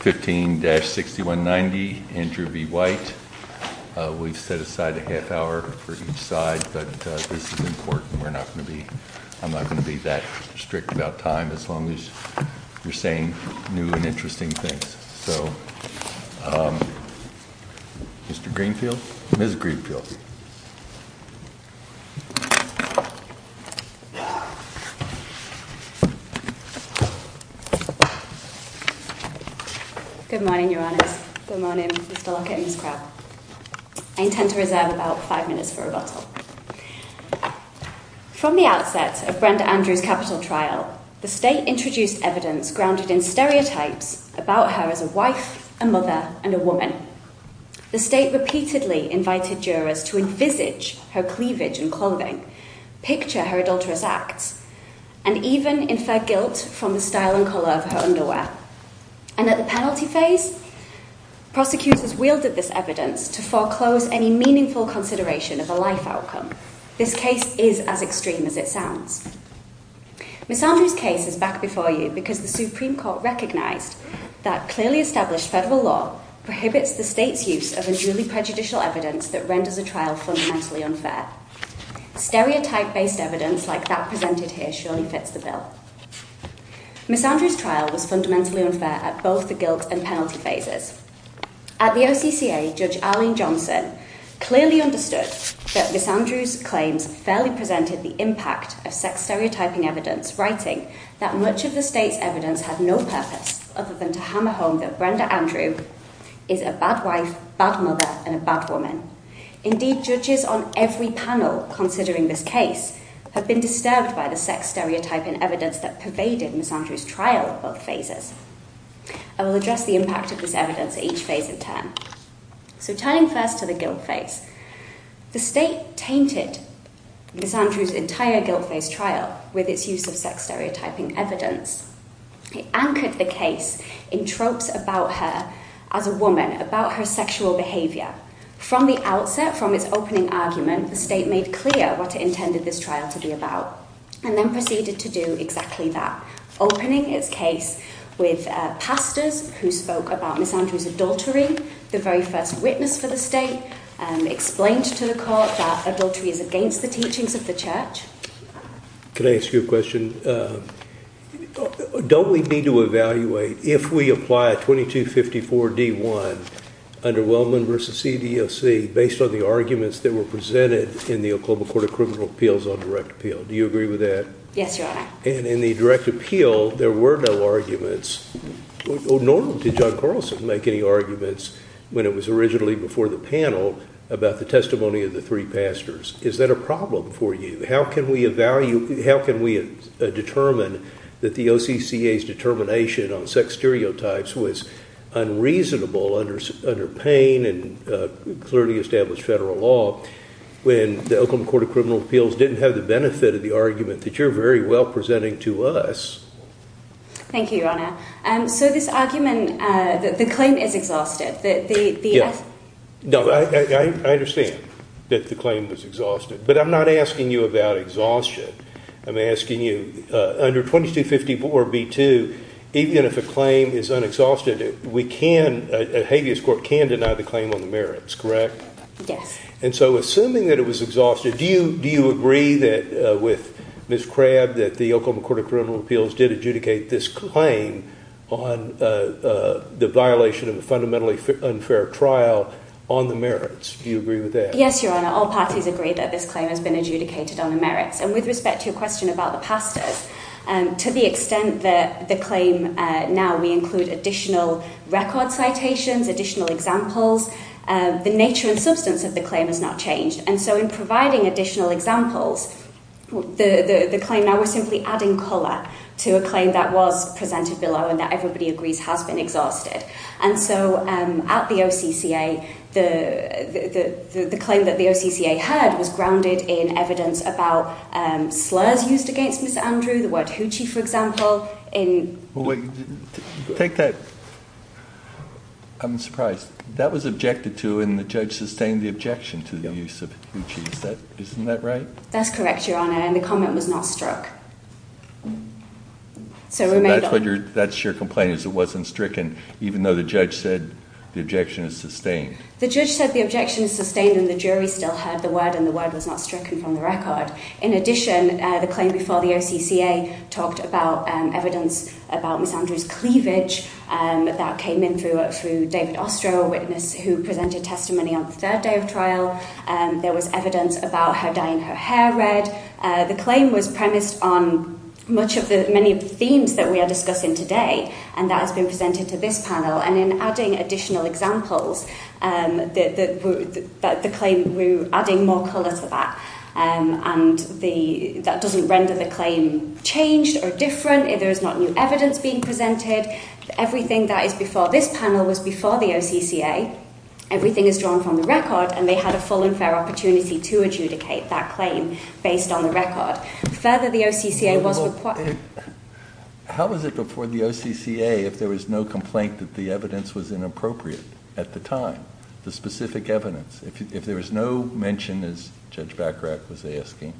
15-6190, Andrew B. White. We've set aside a half hour for each side, but this is important. I'm not going to be that strict about time as long as you're saying new and interesting things. So, Mr. Greenfield? Ms. Greenfield? Good morning, Your Honor. Good morning, Mr. Lockett and Ms. Brown. I intend to reserve about five minutes for rebuttal. From the outset of Brenda Andrew's capital trial, the State introduced evidence grounded in stereotypes about her as a wife, a mother, and a woman. The State repeatedly invited jurors to envisage her cleavage and clothing, picture her adulterous acts, and even infer guilt from the style and color of her underwear. And at the penalty phase, prosecutors wielded this evidence to foreclose any meaningful consideration of a life outcome. This case is as extreme as it sounds. Ms. Andrew's case is back before you because the Supreme Court recognized that clearly established federal law prohibits the State's use of a duly prejudicial evidence that renders the trial fundamentally unfair. Stereotype-based evidence like that presented here surely fits the bill. Ms. Andrew's trial was fundamentally unfair at both the guilt and penalty phases. At the OCCA, Judge Arlene Johnson clearly understood that Ms. Andrew's claim fairly prevented the impact of sex-stereotyping evidence, writing that much of the State's evidence has no purpose other than to hammer home that Brenda Andrew is a bad wife, bad mother, and a bad woman. Indeed, judges on every panel considering this case have been disturbed by the sex-stereotyping evidence that pervaded Ms. Andrew's trial at both phases. I will address the impact of this evidence at each phase in turn. So tying first to the guilt phase, the State tainted Ms. Andrew's entire guilt phase trial with its use of sex-stereotyping evidence. It anchored the case in tropes about her as a woman, about her sexual behavior. From the outset, from its opening argument, the State made clear what it intended this trial to be about, and then proceeded to do exactly that, opening its case with pastors who spoke about Ms. Andrew's adultery, the very first witness for the State, and explained to the Court that adultery is against the teachings of the Church. Can I ask you a question? Don't we need to evaluate if we apply 2254-D1 under Wellman v. CDLC based on the arguments that were presented in the Oklahoma Court of Criminal Appeals on direct appeal? Do you agree with that? Yes, Your Honor. In the direct appeal, there were no arguments. Nor did John Carlson make any arguments when it was originally before the panel about the testimony of the three pastors. Is that a problem for you? How can we determine that the OCCA's determination on sex stereotypes was unreasonable under pain and clearly established federal law when the Oklahoma Court of Criminal Appeals didn't have the benefit of the argument that you're very well presenting to us? Thank you, Your Honor. So this argument, the claim is exhaustive. I understand that the claim was exhaustive, but I'm not asking you about exhaustion. I'm asking you, under 2254-B2, even if the claim is unexhausted, a habeas court can deny the claim on the merits, correct? Yes. And so assuming that it was exhaustive, do you agree with Ms. Crabb that the Oklahoma Court of Criminal Appeals did adjudicate this claim on the violation of a fundamentally unfair trial on the merits? Do you agree with that? Yes, Your Honor. All parties agree that this claim has been adjudicated on the merits. And with respect to your question about the pastors, to the extent that the claim now includes additional record citations, additional examples, the nature and substance of the claim has not changed. And so in providing additional examples, the claim now is simply adding color to a claim that was presented below and that everybody agrees has been exhaustive. And so at the OCCA, the claim that the OCCA had was grounded in evidence about slurs used against Mr. Andrew, the word hoochie, for example. Take that. I'm surprised. That was objected to and the judge sustained the objection to the use of hoochie. Isn't that right? That's correct, Your Honor. And the comment was not struck. That's your complaint, it wasn't stricken, even though the judge said the objection is sustained. The judge said the objection is sustained and the jury still had the word and the word was not stricken from the record. In addition, the claim before the OCCA talked about evidence about Ms. Andrew's cleavage. That came in through David Ostro, a witness who presented testimony on the third day of trial. There was evidence about her dyeing her hair red. The claim was premised on many of the themes that we are discussing today, and that has been presented to this panel. And in adding additional examples, the claim, we're adding more color to that. And that doesn't render the claim changed or different. There's not new evidence being presented. Everything that is before this panel was before the OCCA. Everything is drawn from the record, and they had a full and fair opportunity to adjudicate that claim based on the record. Further, the OCCA was required. How was it before the OCCA if there was no complaint that the evidence was inappropriate at the time, the specific evidence? If there was no mention, as Judge Bacharach was asking,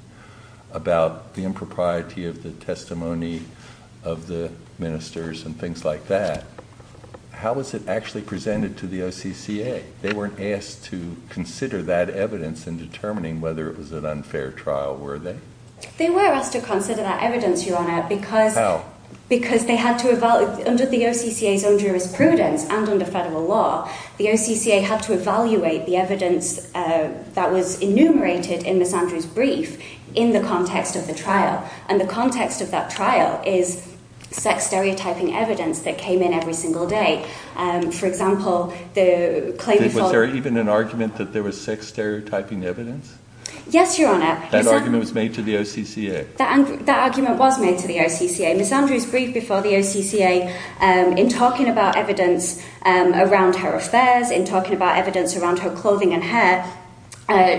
about the impropriety of the testimony of the ministers and things like that, how was it actually presented to the OCCA? They weren't asked to consider that evidence in determining whether it was an unfair trial, were they? They were asked to consider that evidence, Your Honor. Because under the OCCA's own jurisprudence and under federal law, the OCCA had to evaluate the evidence that was enumerated in Ms. Andrews' brief in the context of the trial. And the context of that trial is sex-stereotyping evidence that came in every single day. For example, the claim was called- Was there even an argument that there was sex-stereotyping evidence? Yes, Your Honor. That argument was made to the OCCA? That argument was made to the OCCA. Ms. Andrews' brief before the OCCA, in talking about evidence around her affairs, in talking about evidence around her clothing and hair,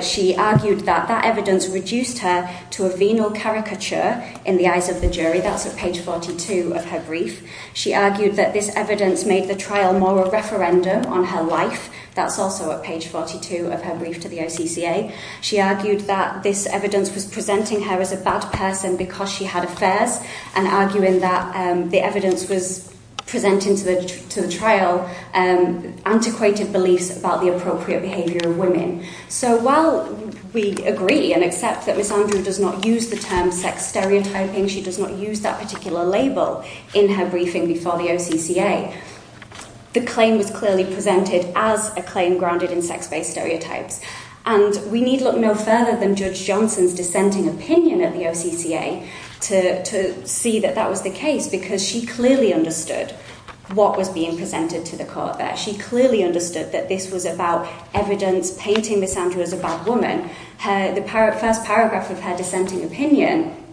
she argued that that evidence reduced her to a venal caricature in the eyes of the jury. That's at page 42 of her brief. She argued that this evidence made the trial more a referendum on her life. That's also at page 42 of her brief to the OCCA. She argued that this evidence was presenting her as a bad person because she had affairs, and arguing that the evidence was presenting to the trial antiquated beliefs about the appropriate behavior of women. So while we agree and accept that Ms. Andrews does not use the term sex-stereotyping, she does not use that particular label in her briefing before the OCCA, the claim was clearly presented as a claim grounded in sex-based stereotypes. And we need look no further than Judge Johnson's dissenting opinion at the OCCA to see that that was the case, because she clearly understood what was being presented to the court there. She clearly understood that this was about evidence painting Ms. Andrews as a bad woman. The first paragraph of her dissenting opinion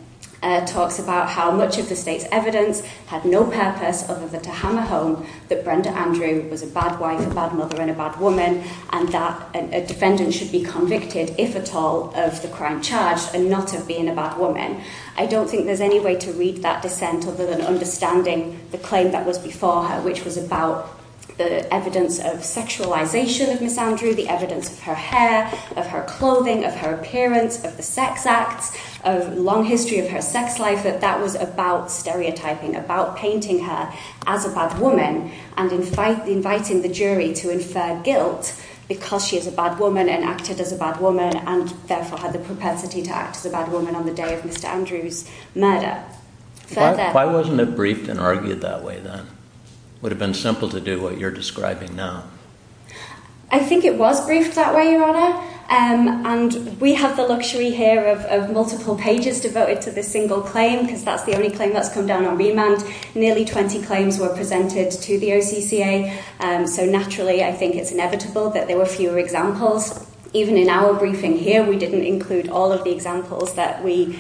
talks about how much of the state's evidence had no purpose other than to hammer home that Brenda Andrews was a bad wife, a bad mother, and a bad woman, and that a defendant should be convicted, if at all, of the crime charged, and not of being a bad woman. I don't think there's any way to read that dissent other than understanding the claim that was before her, which was about the evidence of sexualization of Ms. Andrews, the evidence of her hair, of her clothing, of her appearance, of the sex acts, of the long history of her sex life. But that was about stereotyping, about painting her as a bad woman, and inviting the jury to infer guilt because she is a bad woman and acted as a bad woman, and therefore had the propensity to act as a bad woman on the day of Mr. Andrews' murder. Why wasn't it briefed and argued that way, then? It would have been simple to do what you're describing now. I think it was briefed that way, Your Honor, and we have the luxury here of multiple pages devoted to this single claim because that's the only claim that's come down on remand. Nearly 20 claims were presented to the OCCA, so naturally I think it's inevitable that there were fewer examples. Even in our briefing here, we didn't include all of the examples that we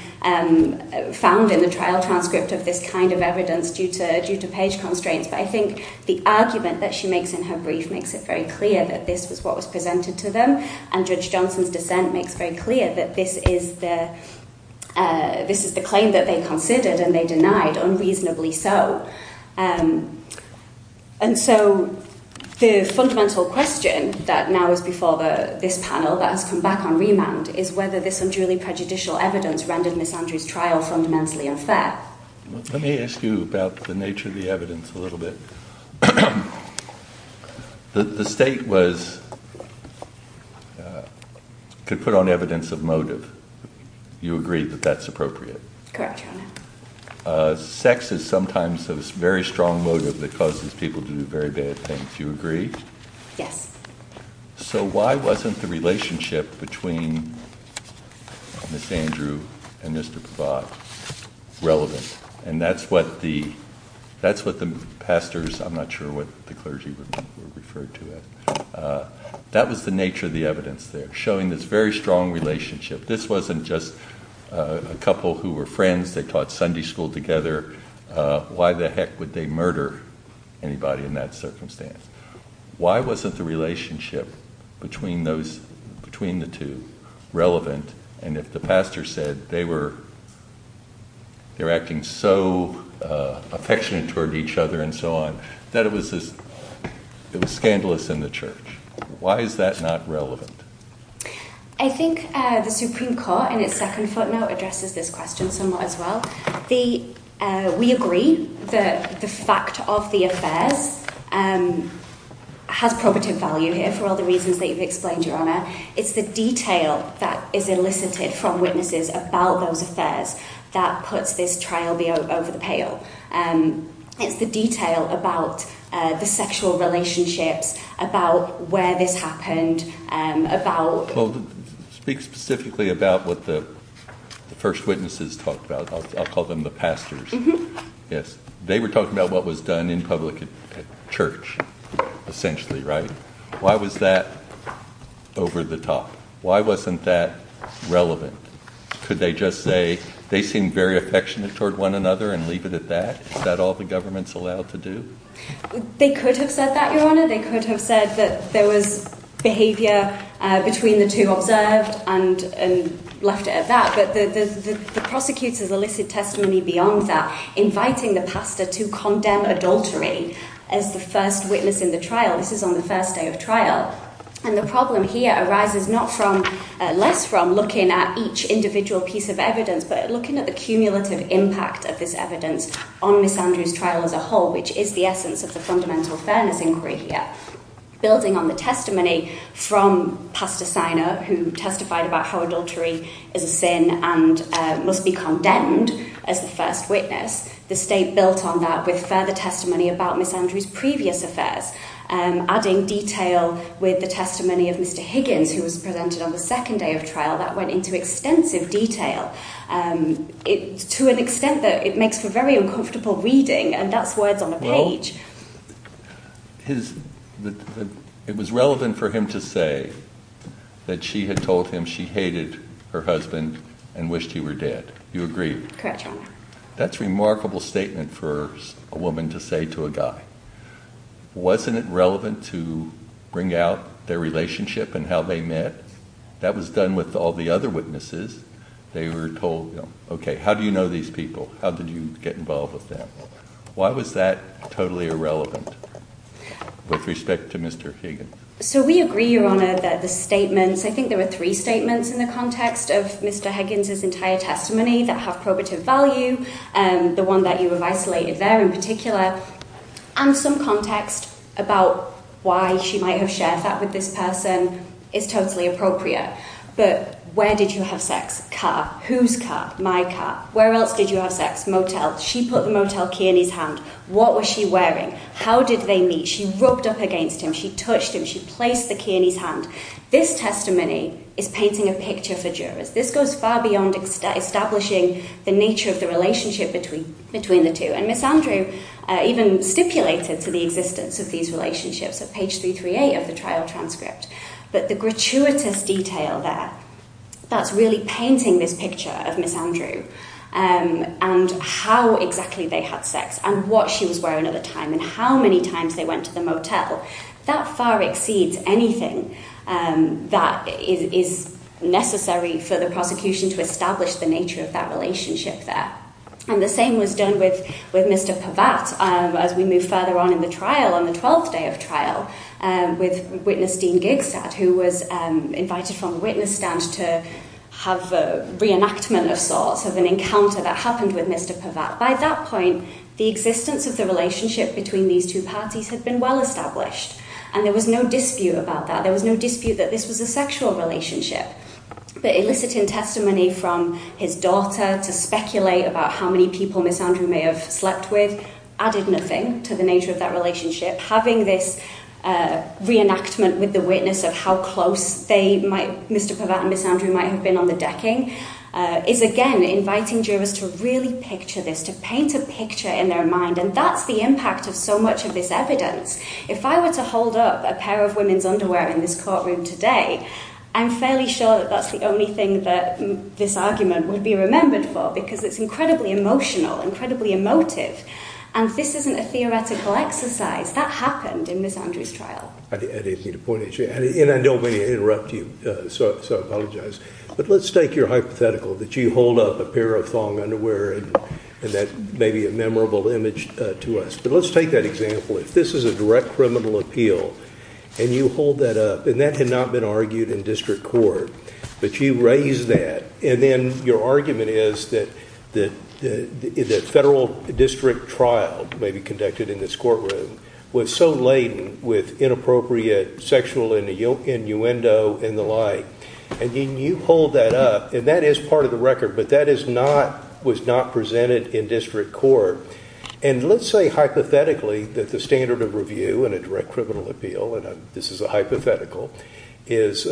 found in the trial transcript of this kind of evidence due to page constraints. But I think the argument that she makes in her brief makes it very clear that this is what was presented to them, and Judge Johnson's dissent makes very clear that this is the claim that they considered and they denied, unreasonably so. And so the fundamental question that now is before this panel that has come back on remand is whether this unduly prejudicial evidence rendered Ms. Andrews' trial fundamentally unfair. Let me ask you about the nature of the evidence a little bit. The state could put on evidence of motive. You agree that that's appropriate? Correct, Your Honor. Sex is sometimes a very strong motive that causes people to do very bad things. Do you agree? Yes. So why wasn't the relationship between Ms. Andrews and Mr. Provides relevant? And that's what the pastors, I'm not sure what the clergy would refer to it. That was the nature of the evidence there, showing this very strong relationship. This wasn't just a couple who were friends, they taught Sunday school together. Why the heck would they murder anybody in that circumstance? Why wasn't the relationship between the two relevant? And if the pastor said they were acting so affectionate toward each other and so on, that it was scandalous in the church. Why is that not relevant? I think the Supreme Court in its second footnote addresses this question somewhat as well. We agree that the fact of the affairs has prominent value here for all the reasons that you've explained, Your Honor. It's the detail that is elicited from witnesses about those affairs that puts this trial over the pail. It's the detail about the sexual relationship, about where this happened, about... Speak specifically about what the first witnesses talked about. I'll call them the pastors. Yes. They were talking about what was done in public at church, essentially, right? Why was that over the top? Why wasn't that relevant? Could they just say they seemed very affectionate toward one another and leave it at that? Is that all the government's allowed to do? They could have said that, Your Honor. They could have said that there was behavior between the two observed and left it at that. But the prosecutor's elicited testimony beyond that, inviting the pastor to condemn adultery as the first witness in the trial. This is on the first day of trial. And the problem here arises not less from looking at each individual piece of evidence, but looking at the cumulative impact of this evidence on Ms. Andrew's trial as a whole, which is the essence of the fundamental fairness inquiry here. Building on the testimony from Pastor Siner, who testified about how adultery is a sin and must be condemned as the first witness, the state built on that with further testimony about Ms. Andrew's previous affairs, adding detail with the testimony of Mr. Higgins, who was presented on the second day of trial. That went into extensive detail to an extent that it makes for very uncomfortable reading, and that's worth on the page. Well, it was relevant for him to say that she had told him she hated her husband and wished he were dead. You agree? Correct, Your Honor. That's a remarkable statement for a woman to say to a guy. Wasn't it relevant to bring out their relationship and how they met? That was done with all the other witnesses. They were told, okay, how do you know these people? How did you get involved with them? Why was that totally irrelevant with respect to Mr. Higgins? So we agree, Your Honor, that the statements – I think there were three statements in the context of Mr. Higgins' entire testimony that have probative value, the one that you have isolated there in particular, and some context about why she might have shared that with this person is totally appropriate. But where did you have sex? Whose car? My car. Where else did you have sex? Motel. She put the motel key in his hand. What was she wearing? How did they meet? She rubbed up against him. She touched him. She placed the key in his hand. This testimony is painting a picture for jurors. This goes far beyond establishing the nature of the relationship between the two. And Ms. Andrew even stipulated for the existence of these relationships at page 338 of the trial transcript. But the gratuitous detail there, that's really painting this picture of Ms. Andrew and how exactly they had sex and what shoes were and how many times they went to the motel. That far exceeds anything that is necessary for the prosecution to establish the nature of that relationship there. And the same was done with Mr. Pavatt as we move further on in the trial, on the 12th day of trial, with Witness Dean Gigstad, who was invited from the witness stand to have a reenactment of sorts, of an encounter that happened with Mr. Pavatt. By that point, the existence of the relationship between these two parties had been well established. And there was no dispute about that. There was no dispute that this was a sexual relationship. The eliciting testimony from his daughter to speculate about how many people Ms. Andrew may have slept with added nothing to the nature of that relationship. Having this reenactment with the witness of how close Mr. Pavatt and Ms. Andrew might have been on the decking is, again, inviting jurors to really picture this, to paint a picture in their mind. And that's the impact of so much of this evidence. If I were to hold up a pair of women's underwear in this courtroom today, I'm fairly sure that that's the only thing that this argument would be remembered for because it's incredibly emotional, incredibly emotive. And this isn't a theoretical exercise. That happened in Ms. Andrew's trial. And I don't want to interrupt you, so I apologize. But let's take your hypothetical that you hold up a pair of long underwear and that's maybe a memorable image to us. But let's take that example. If this is a direct criminal appeal and you hold that up, and that had not been argued in district court, but you raise that, and then your argument is that the federal district trial may be conducted in this courtroom was so laden with inappropriate sexual innuendo and the like, and then you hold that up, and that is part of the record, but that was not presented in district court. And let's say hypothetically that the standard of review in a direct criminal appeal, and this is a hypothetical, is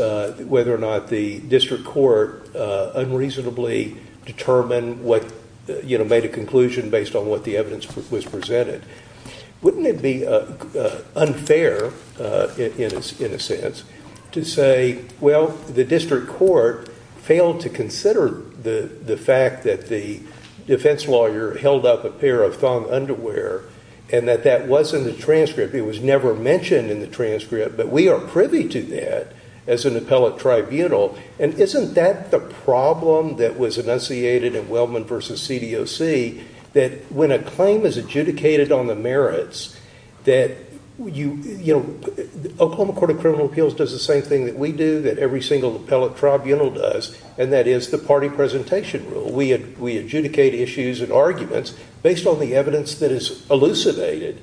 whether or not the district court unreasonably determined what, you know, made a conclusion based on what the evidence was presented. Wouldn't it be unfair, in a sense, to say, well, the district court failed to consider the fact that the defense lawyer held up a pair of long underwear and that that was in the transcript. It was never mentioned in the transcript, but we are privy to that as an appellate tribunal. And isn't that the problem that was enunciated in Wellman v. CDOC, that when a claim is adjudicated on the merits that, you know, Oklahoma Court of Criminal Appeals does the same thing that we do, that every single appellate tribunal does, and that is the party presentation rule. We adjudicate issues and arguments based on the evidence that is elucidated.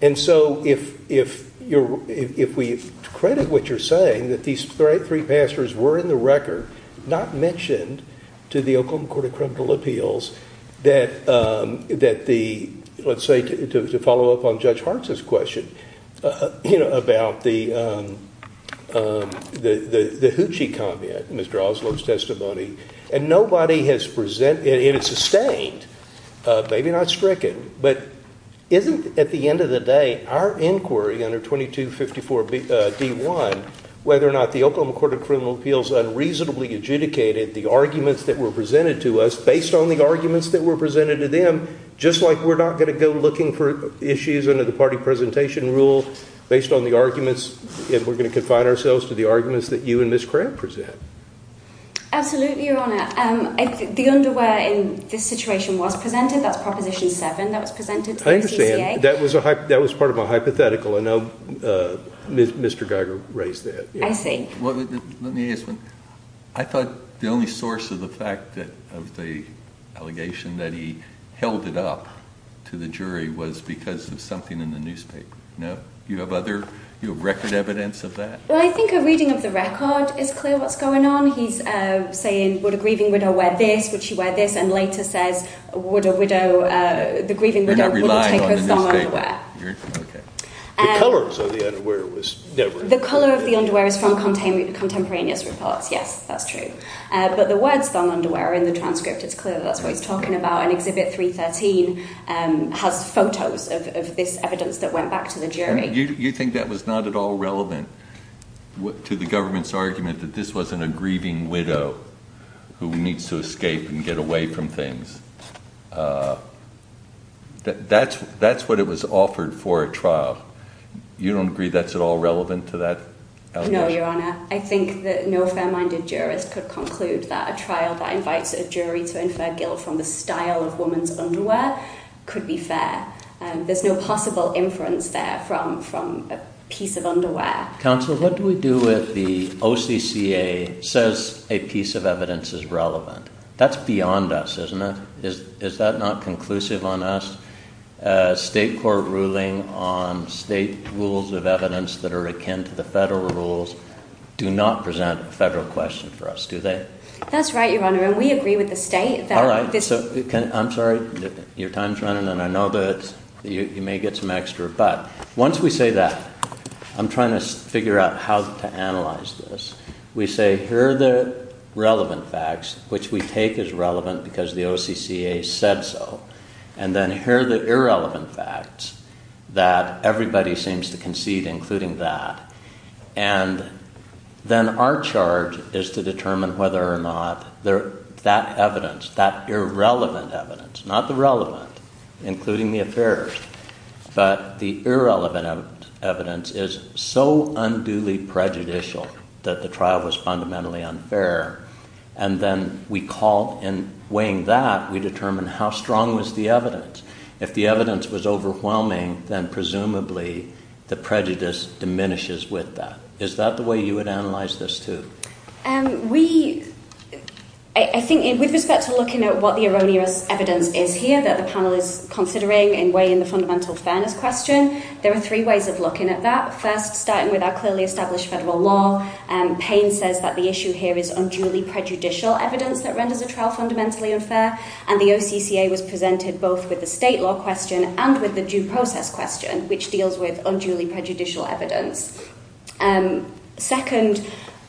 And so if we credit what you're saying, that these three passers were in the record, not mentioned to the Oklahoma Court of Criminal Appeals, that the, let's say, to follow up on Judge Hartz's question about the hoochie comment, Ms. Droslow's testimony, and nobody has presented, it is sustained, maybe not stricken, but isn't, at the end of the day, our inquiry under 2254 D1, whether or not the Oklahoma Court of Criminal Appeals unreasonably adjudicated the arguments that were presented to us, based on the arguments that were presented to them, just like we're not going to go looking for issues under the party presentation rule based on the arguments, and we're going to confine ourselves to the arguments that you and Ms. Crabb present. Absolutely, Your Honor. The underwear in this situation was presented. That's Proposition 7. I understand. That was part of a hypothetical. I know Mr. Geiger raised that. I see. I thought the only source of the fact of the allegation that he held it up to the jury was because of something in the newspaper. No? Do you have other record evidence of that? Well, I think a reading of the record is clear what's going on. He's saying, would a grieving widow wear this, would she wear this, and later said, would a widow, the grieving widow would not take her song underwear. Okay. The color of the underwear was... Contemporaneous reports. Yes, that's true. But the word song underwear in the transcript is clear. That's what he's talking about. And Exhibit 313 has photos of this evidence that went back to the jury. You think that was not at all relevant to the government's argument that this was a grieving widow who needs to escape and get away from things? That's what it was offered for at trial. You don't agree that's at all relevant to that allegation? No, Your Honor. I think that no fair-minded jurist could conclude that a trial that invites a jury to infer guilt from the style of a woman's underwear could be fair. There's no possible inference there from a piece of underwear. Counsel, what do we do if the OCCA says a piece of evidence is relevant? That's beyond us, isn't it? Is that not conclusive on us? State court ruling on state rules of evidence that are akin to the federal rules do not present a federal question for us, do they? That's right, Your Honor, and we agree with the state. All right. I'm sorry, your time's running, and I know that you may get some extra. But once we say that, I'm trying to figure out how to analyze this. We say here are the relevant facts, which we take as relevant because the OCCA said so, and then here are the irrelevant facts that everybody seems to concede, including that. And then our charge is to determine whether or not that evidence, that irrelevant evidence, not the relevant, including the affairs, but the irrelevant evidence, is so unduly prejudicial that the trial was fundamentally unfair. And then we call, in weighing that, we determine how strong was the evidence. If the evidence was overwhelming, then presumably the prejudice diminishes with that. Is that the way you would analyze this, too? I think it would be better to look at what the erroneous evidence is here that the panel is considering in weighing the fundamental fairness question. There are three ways of looking at that. First, starting with our clearly established federal law. Payne says that the issue here is unduly prejudicial evidence that renders a trial fundamentally unfair, and the OCCA was presented both with the state law question and with the due process question, which deals with unduly prejudicial evidence. Second,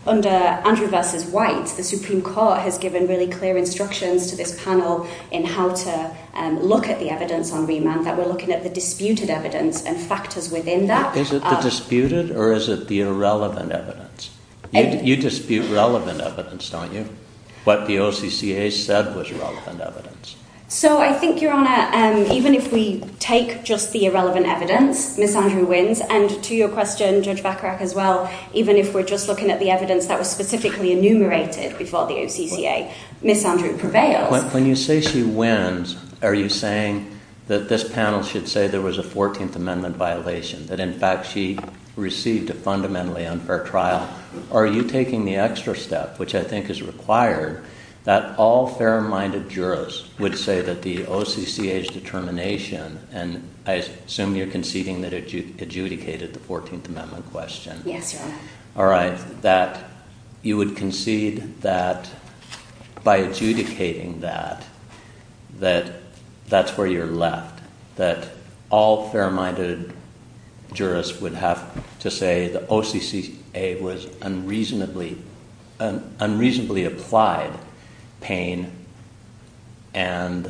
under Andrew versus White, the Supreme Court has given really clear instructions to this panel in how to look at the evidence on remand, that we're looking at the disputed evidence and factors within that. Is it the disputed or is it the irrelevant evidence? You dispute relevant evidence, don't you? What the OCCA said was relevant evidence. So I think, Your Honor, even if we take just the irrelevant evidence, Ms. Andrew wins, and to your question, Judge Bacharach, as well, even if we're just looking at the evidence that was specifically enumerated before the OCCA, Ms. Andrew prevails. When you say she wins, are you saying that this panel should say there was a 14th Amendment violation, that, in fact, she received a fundamentally unfair trial? Are you taking the extra step, which I think is required, that all fair-minded jurors would say that the OCCA's determination, and I assume you're conceding that it adjudicated the 14th Amendment question. Yes, Your Honor. All right, that you would concede that by adjudicating that, that that's where you're left, that all fair-minded jurors would have to say the OCCA was unreasonably applied pain, and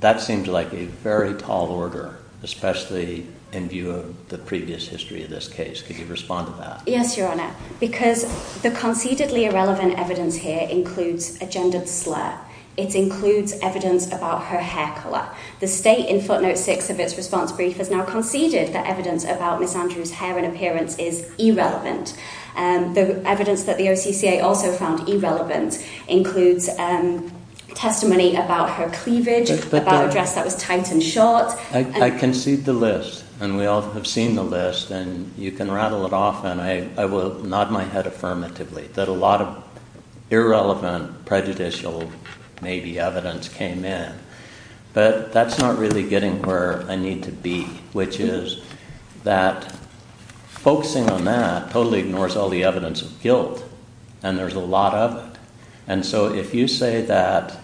that seems like a very tall order, especially in view of the previous history of this case. Could you respond to that? Yes, Your Honor, because the concededly irrelevant evidence here includes a gendered slur. It includes evidence about her hair color. The state, in footnote 6 of its response brief, has now conceded that evidence about Ms. Andrew's hair and appearance is irrelevant. The evidence that the OCCA also found irrelevant includes testimony about her cleavage, about a dress that was tight and short. I concede the list, and we all have seen the list, and you can rattle it off, and I will nod my head affirmatively that a lot of irrelevant, prejudicial, maybe, evidence came in. But that's not really getting where I need to be, which is that focusing on that totally ignores all the evidence of guilt, and there's a lot of it. And so if you say that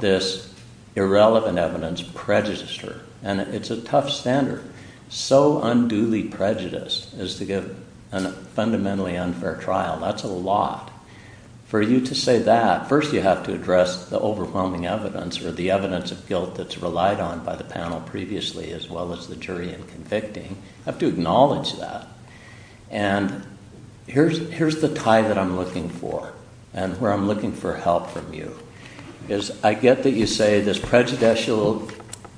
this irrelevant evidence prejudices her, and it's a tough standard, so unduly prejudiced as to give a fundamentally unfair trial, that's a lot. For you to say that, first you have to address the overwhelming evidence, or the evidence of guilt that's relied on by the panel previously, as well as the jury in convicting. You have to acknowledge that. And here's the tie that I'm looking for, and where I'm looking for help from you. Because I get that you say this prejudicial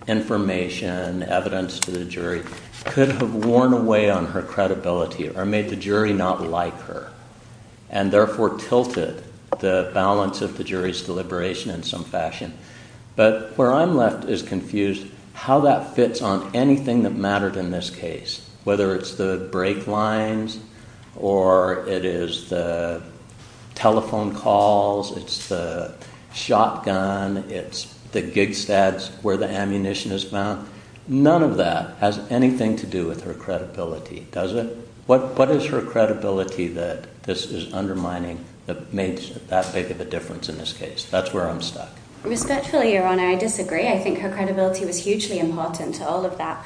information, evidence to the jury, could have worn away on her credibility, or made the jury not like her, and therefore tilted the balance of the jury's deliberation in some fashion. But where I'm left is confused how that fits on anything that mattered in this case, whether it's the brake lines, or it is the telephone calls, it's the shotgun, it's the gig stats where the ammunition is found. None of that has anything to do with her credibility, does it? What is her credibility that this is undermining, that makes that big of a difference in this case? That's where I'm stuck. Respectfully, Your Honor, I disagree. I think her credibility was hugely important to all of that.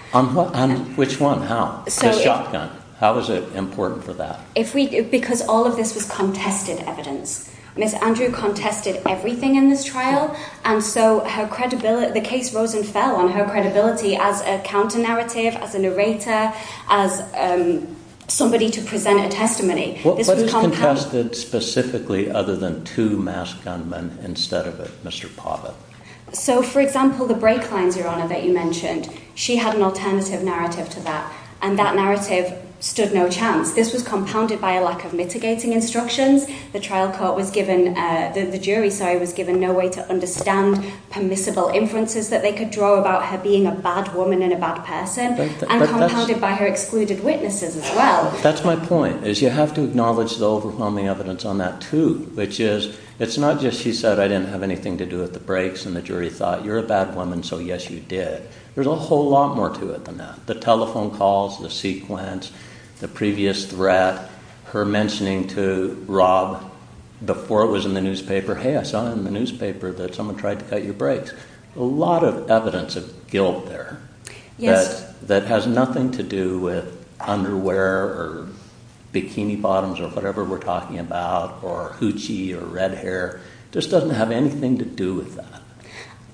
Which one? How? The shotgun. How was it important for that? Because all of this was contested evidence. Ms. Andrew contested everything in this trial, and so the case rose and fell on her credibility as a counter-narrative, as a narrator, as somebody to present a testimony. What was contested specifically other than two masked gunmen instead of a Mr. Poppett? So, for example, the brake lines, Your Honor, that you mentioned, she had an alternative narrative to that, and that narrative stood no chance. This was compounded by a lack of mitigating instructions. The jury was given no way to understand permissible influences that they could draw about her being a bad woman and a bad person, and compounded by her excluded witnesses as well. That's my point, is you have to acknowledge the overwhelming evidence on that too, which is, it's not just she said, I didn't have anything to do with the brakes, and the jury thought, you're a bad woman, so yes, you did. There's a whole lot more to it than that. The telephone calls, the sequence, the previous threat, her mentioning to Rob, before it was in the newspaper, hey, I saw it in the newspaper that someone tried to cut your brakes. A lot of evidence is built there that has nothing to do with underwear or bikini bottoms or whatever we're talking about, or hoochie or red hair. It just doesn't have anything to do with that.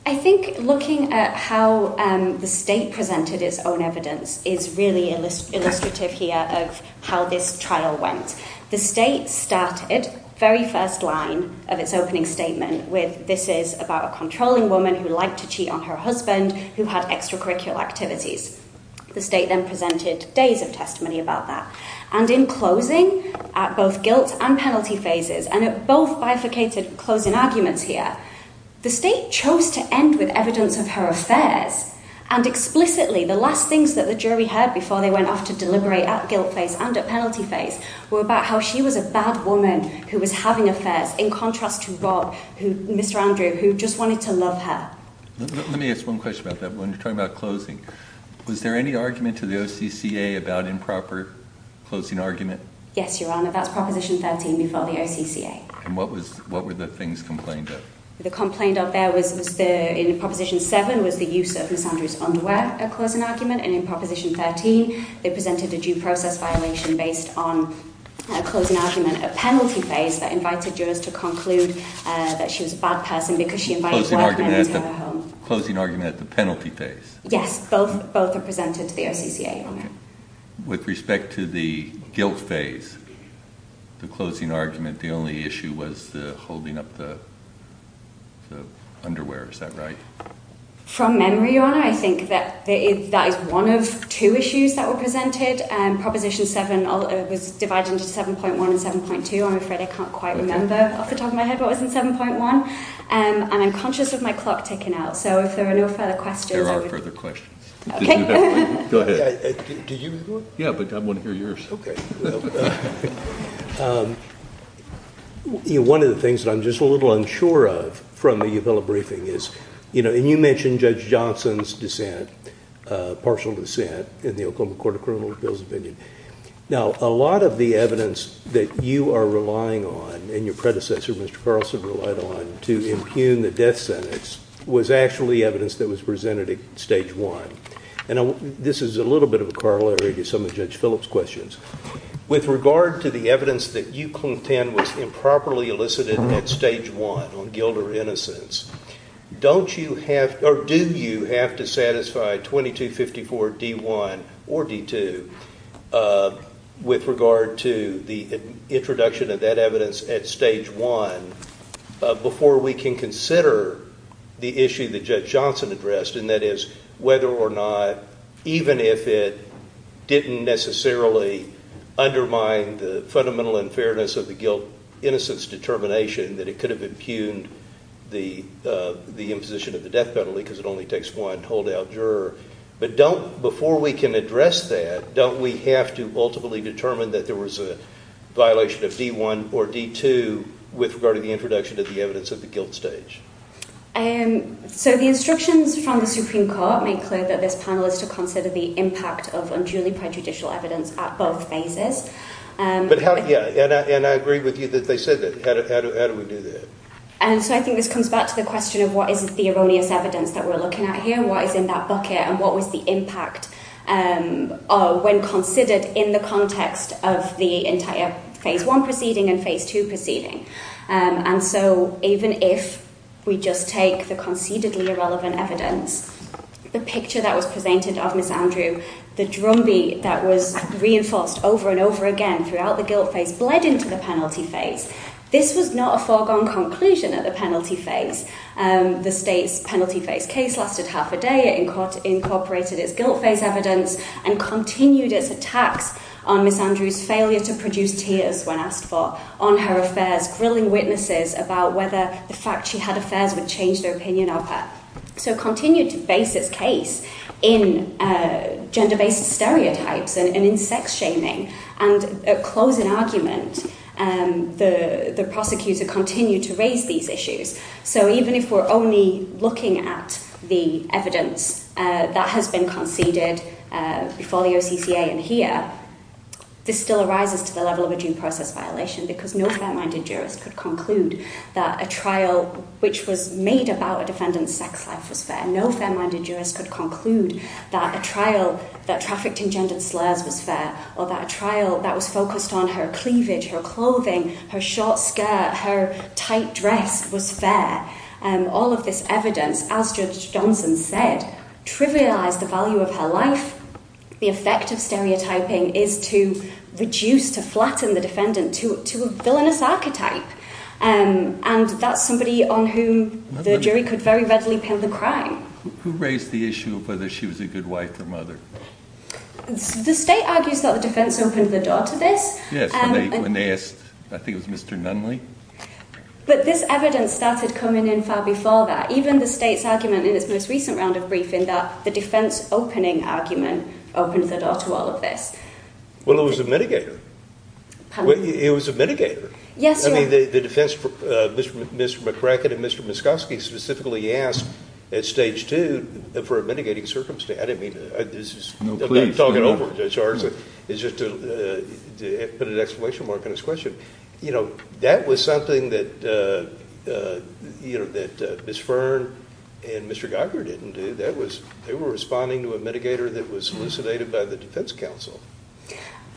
I think looking at how the state presented its own evidence is really illustrative here of how this trial went. The state started, very first line of its opening statement, this is about a controlling woman who liked to cheat on her husband, who had extracurricular activities. The state then presented days of testimony about that. In closing, at both guilt and penalty phases, and at both bifurcated closing arguments here, the state chose to end with evidence of her affairs, and explicitly, the last things that the jury heard before they went off to deliberate at guilt phase and at penalty phase were about how she was a bad woman who was having affairs, in contrast to Rob, Mr. Andrew, who just wanted to love her. Let me ask one question about that. When you're talking about closing, was there any argument to the OCCA about improper closing argument? Yes, Your Honor. About Proposition 13, we saw the OCCA. And what were the things complained of? The complaint out there was that in Proposition 7 was the use of Ms. Andrew's underwear at closing argument, and in Proposition 13, they presented a due process violation based on a closing argument at penalty phase that invited jurors to conclude that she was a bad person because she invited her husband to come home. Closing argument at the penalty phase? Yes. Both were presented to the OCCA. With respect to the guilt phase, the closing argument, the only issue was holding up the underwear. Is that right? From memory, Your Honor, I think that is one of two issues that were presented. Proposition 7 was divided into 7.1 and 7.2. I'm afraid I can't quite remember off the top of my head what was in 7.1. And I'm conscious of my clock ticking out. So if there are no further questions... There are no further questions. Okay. Go ahead. Did you have one? Yeah, but I want to hear yours. Okay. One of the things that I'm just a little unsure of from the Uphill briefing is, and you mentioned Judge Johnson's dissent, partial dissent, in the Oklahoma Court of Criminal Appeals opinion. Now, a lot of the evidence that you are relying on, and your predecessor, Mr. Carlson, relied on to impugn the death sentence, was actually evidence that was presented at Stage 1. And this is a little bit of a corollary to some of Judge Phillips' questions. With regard to the evidence that you contend was improperly elicited at Stage 1 on guilt or innocence, do you have to satisfy 2254D1 or D2 with regard to the introduction of that evidence at Stage 1 before we can consider the issue that Judge Johnson addressed, and that is whether or not, even if it didn't necessarily undermine the fundamental unfairness of the guilt-innocence determination, that it could have impugned the imposition of the death penalty because it only takes one holdout juror. But before we can address that, don't we have to ultimately determine that there was a violation of D1 or D2 with regard to the introduction of the evidence at the guilt stage? So the instructions from the Supreme Court make clear that this panel is to consider the impact of unduly prejudicial evidence at both phases. And I agree with you that they said that. How do we do that? So I think this comes back to the question of what is the erroneous evidence that we're looking at here and what is in that bucket and what was the impact when considered in the context of the entire Phase 1 proceeding and Phase 2 proceeding. And so even if we just take the conceivably irrelevant evidence, the picture that was presented of Ms. Andrew, the drumbeat that was reinforced over and over again throughout the guilt phase, bled into the penalty phase. This was not a foregone conclusion at the penalty phase. The state's penalty phase case lasted half a day, it incorporated its guilt phase evidence and continued its attack on Ms. Andrew's failure to produce tears when asked for, on her affairs, grilling witnesses about whether the fact she had affairs would change their opinion of her. So continue to base this case in gender-based stereotypes and in sex shaming. And at closing argument, the prosecutors have continued to raise these issues. So even if we're only looking at the evidence that has been conceded before the OCCA and here, this still arises to the level of a due process violation because no fair-minded jurist could conclude that a trial which was made about a defendant in the second class was fair. No fair-minded jurist could conclude that a trial that trafficked engendered slurs was fair or that a trial that was focused on her cleavage, her clothing, her short skirt, her tight dress was fair. And all of this evidence, as Judge Johnson said, trivialized the value of her life. The effect of stereotyping is to reduce, to flatten the defendant to a villainous archetype. And that's somebody on whom the jury could very readily pin the crime. Who raised the issue of whether she was a good wife or mother? The state argues that the defense opens the door to this. Yes, when they asked, I think it was Mr. Nunley. But this evidence started coming in far before that. Even the state's argument in its most recent round of briefing that the defense opening argument opens the door to all of this. Well, it was a mitigator. Pardon? It was a mitigator. Yes, it was. I mean, the defense, Mr. McCracken and Mr. Muscovsky specifically asked at Stage 2 for a mitigating circumstance. I mean, I'm not talking over the charge. It's just to put an exclamation mark on this question. You know, that was something that, you know, that Ms. Fern and Mr. Geiger didn't do. That was, they were responding to a mitigator that was solicited by the defense counsel.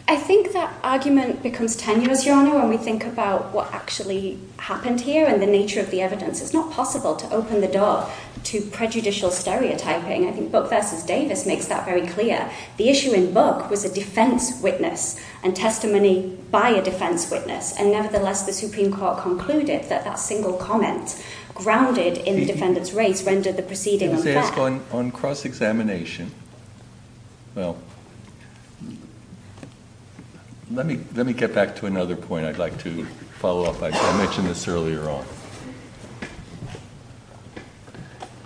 I think that argument becomes tender, Jonah, when we think about what actually happened here and the nature of the evidence. It's not possible to open the door to prejudicial stereotyping. I think Buck v. Davis makes that very clear. The issue in Buck was the defense witness and testimony by a defense witness. And, nevertheless, the Supreme Court concluded that that single comment grounded in the defender's race rendered the proceeding unfair. On cross-examination, well, let me get back to another point I'd like to follow up. I mentioned this earlier on.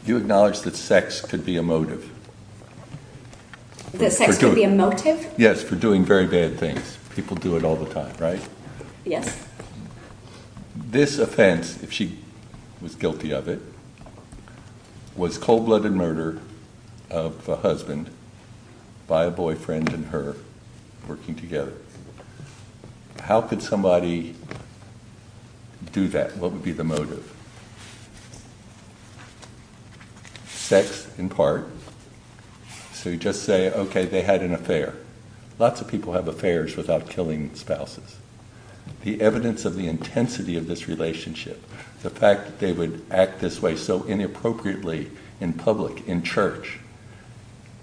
You acknowledged that sex could be a motive. That sex could be a motive? Yes, for doing very bad things. People do it all the time, right? Yes. This offense, if she was guilty of it, was cold-blooded murder of a husband by a boyfriend and her working together. How could somebody do that? What would be the motive? Sex, in part. So you just say, okay, they had an affair. Lots of people have affairs without killing spouses. The evidence of the intensity of this relationship, the fact that they would act this way so inappropriately in public, in church,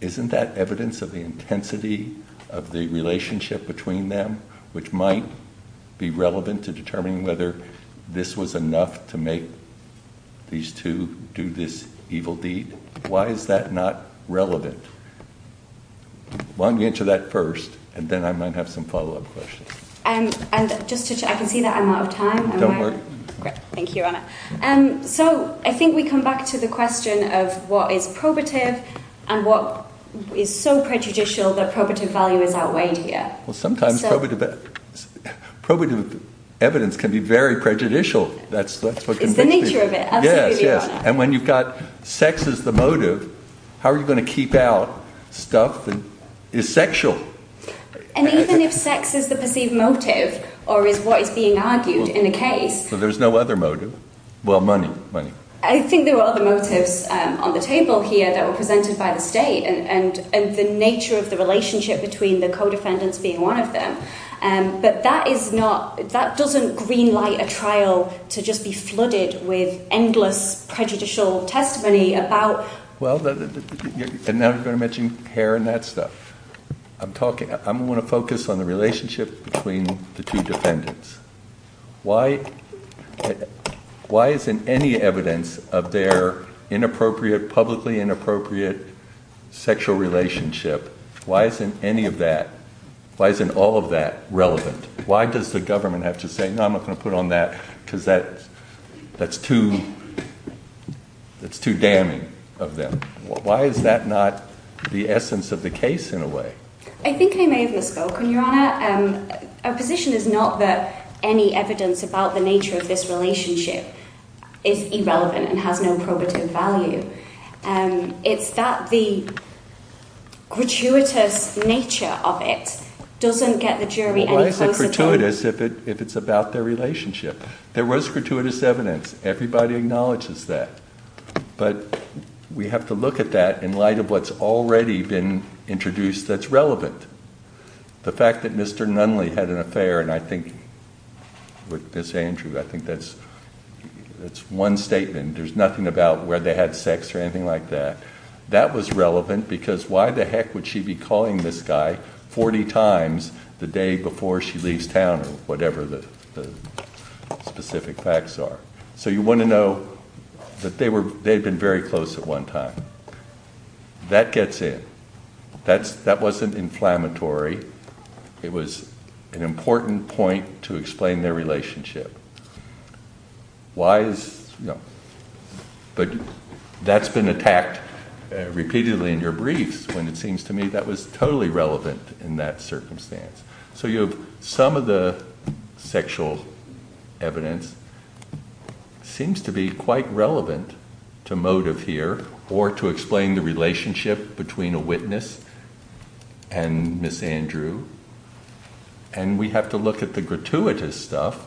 isn't that evidence of the intensity of the relationship between them, which might be relevant to determining whether this was enough to make these two do this evil deed? Why is that not relevant? Why don't we answer that first, and then I might have some follow-up questions. I can see that I'm out of time. Don't worry. Great. Thank you, Your Honor. So I think we come back to the question of what is probative and what is so prejudicial that probative value is outweighed here. Well, sometimes probative evidence can be very prejudicial. It's the nature of it. Yes, yes. And when you've got sex as the motive, how are you going to keep out stuff that is sexual? And even if sex is the perceived motive or is what is being argued in the case. So there's no other motive. Well, money. I think there are other motives on the table here that were presented by the State and the nature of the relationship between the co-defendants being one of them. But that is not, that doesn't green light a trial to just be flooded with endless prejudicial testimony about. Well, and I was going to mention hair and that stuff. I'm talking, I want to focus on the relationship between the two defendants. Why isn't any evidence of their inappropriate, publicly inappropriate sexual relationship, why isn't any of that? Why isn't all of that relevant? Why does the government have to say, no, I'm not going to put on that because that's too damning of them? Why is that not the essence of the case in a way? I think they may have misspoken, Your Honor. Our position is not that any evidence about the nature of this relationship is irrelevant and has no probative value. It's that the gratuitous nature of it doesn't get the jury any closer to it. Why is it gratuitous if it's about their relationship? There was gratuitous evidence. Everybody acknowledges that. But we have to look at that in light of what's already been introduced that's relevant. The fact that Mr. Nunley had an affair, and I think, with Ms. Andrew, I think that's one statement. There's nothing about where they had sex or anything like that. That was relevant because why the heck would she be calling this guy 40 times the day before she leaves town or whatever the specific facts are? So you want to know that they had been very close at one time. That gets in. That wasn't inflammatory. It was an important point to explain their relationship. But that's been attacked repeatedly in your briefs, and it seems to me that was totally relevant in that circumstance. So some of the sexual evidence seems to be quite relevant to motive here or to explain the relationship between a witness and Ms. Andrew. And we have to look at the gratuitous stuff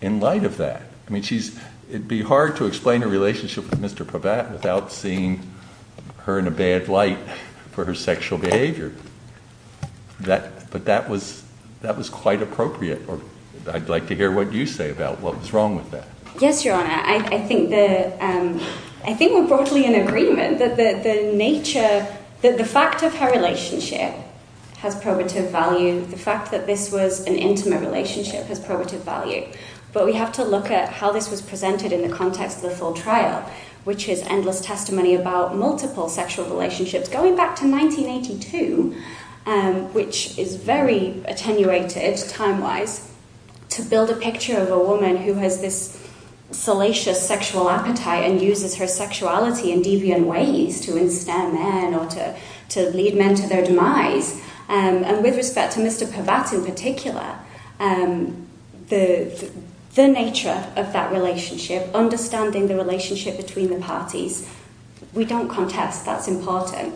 in light of that. I mean, it would be hard to explain a relationship with Mr. Probat without seeing her in a bad light for her sexual behavior. But that was quite appropriate. I'd like to hear what you say about what was wrong with that. Yes, Your Honor. I think we're broadly in agreement that the fact that her relationship has probative value, the fact that this was an intimate relationship has probative value. But we have to look at how this was presented in the context of the full trial, which is endless testimony about multiple sexual relationships. So it's going back to 1982, which is very attenuated time-wise, to build a picture of a woman who has this salacious sexual appetite and uses her sexuality in deviant ways to instill men or to lead men to their demise. And with respect to Mr. Probat in particular, the nature of that relationship, understanding the relationship between the parties, we don't contest that's important.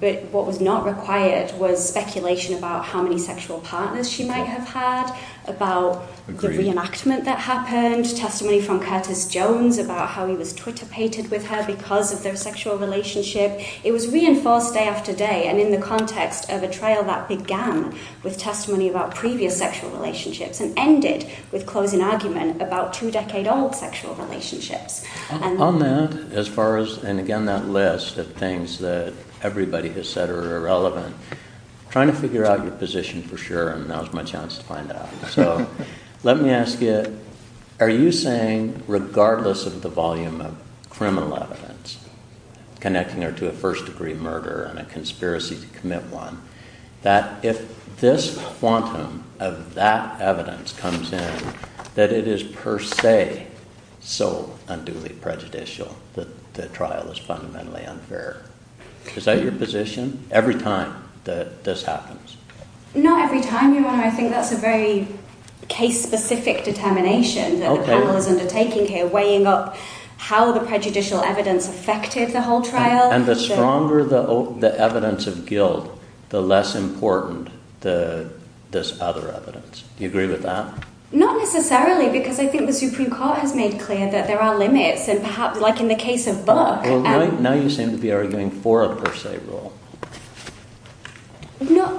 But what was not required was speculation about how many sexual partners she might have had, about the reenactment that happened, testimony from Curtis Jones about how he was tortupated with her because of their sexual relationship. It was reinforced day after day and in the context of a trial that began with testimony about previous sexual relationships and ended with closing argument about two-decade-old sexual relationships. On that, as far as, and again that list of things that everybody has said are irrelevant, I'm trying to figure out your position for sure and now's my chance to find out. So let me ask you, are you saying, regardless of the volume of criminal evidence connecting her to a first-degree murder and a conspiracy to commit one, that if this quantum of that evidence comes in, that it is per se so unduly prejudicial that the trial is fundamentally unfair? Is that your position, every time that this happens? Not every time, I think that's a very case-specific determination that the panel is undertaking here, weighing up how the prejudicial evidence affected the whole trial. And the stronger the evidence of guilt, the less important this other evidence. Do you agree with that? Not necessarily, because I think the Supreme Court has made clear that there are limits, like in the case of Buck. Now you seem to be arguing for a per se rule.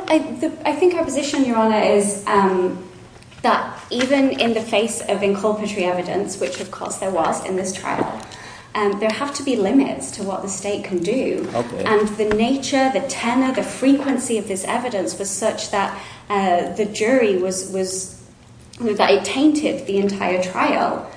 I think our position, Your Honor, is that even in the face of inculpatory evidence, which of course there was in this trial, there have to be limits to what the state can do. And the nature, the tenor, the frequency of this evidence was such that the jury painted the entire trial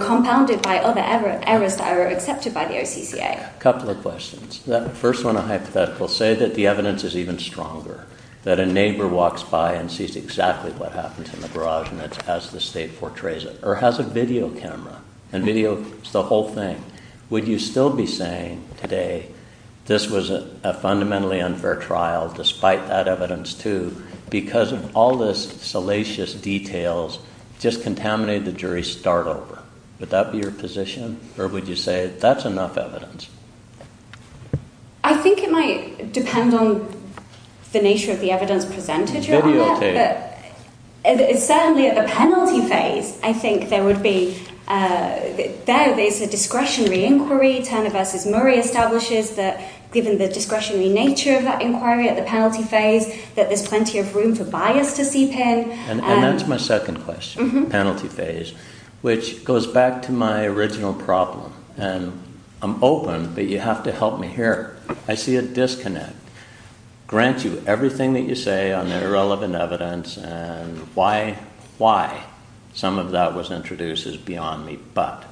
compounded by other errors that were accepted by the OCCA. A couple of questions. First one, a hypothetical. Say that the evidence is even stronger. That a neighbor walks by and sees exactly what happened in the garage and has the state portrays it. Or has a video camera, and video is the whole thing. Would you still be saying today, this was a fundamentally unfair trial, despite that evidence too, because all this salacious details just contaminated the jury start over? Would that be your position? Or would you say that's enough evidence? I think it might depend on the nature of the evidence presented, Your Honor. Certainly at the penalty phase, I think there would be, there is a discretionary inquiry. Turner v. Murray establishes that given the discretionary nature of that inquiry at the penalty phase, that there's plenty of room for bias to seep in. And that's my second question, penalty phase, which goes back to my original problem. And I'm open, but you have to help me here. I see a disconnect. Grant you everything that you say on the irrelevant evidence, and why some of that was introduced is beyond me. But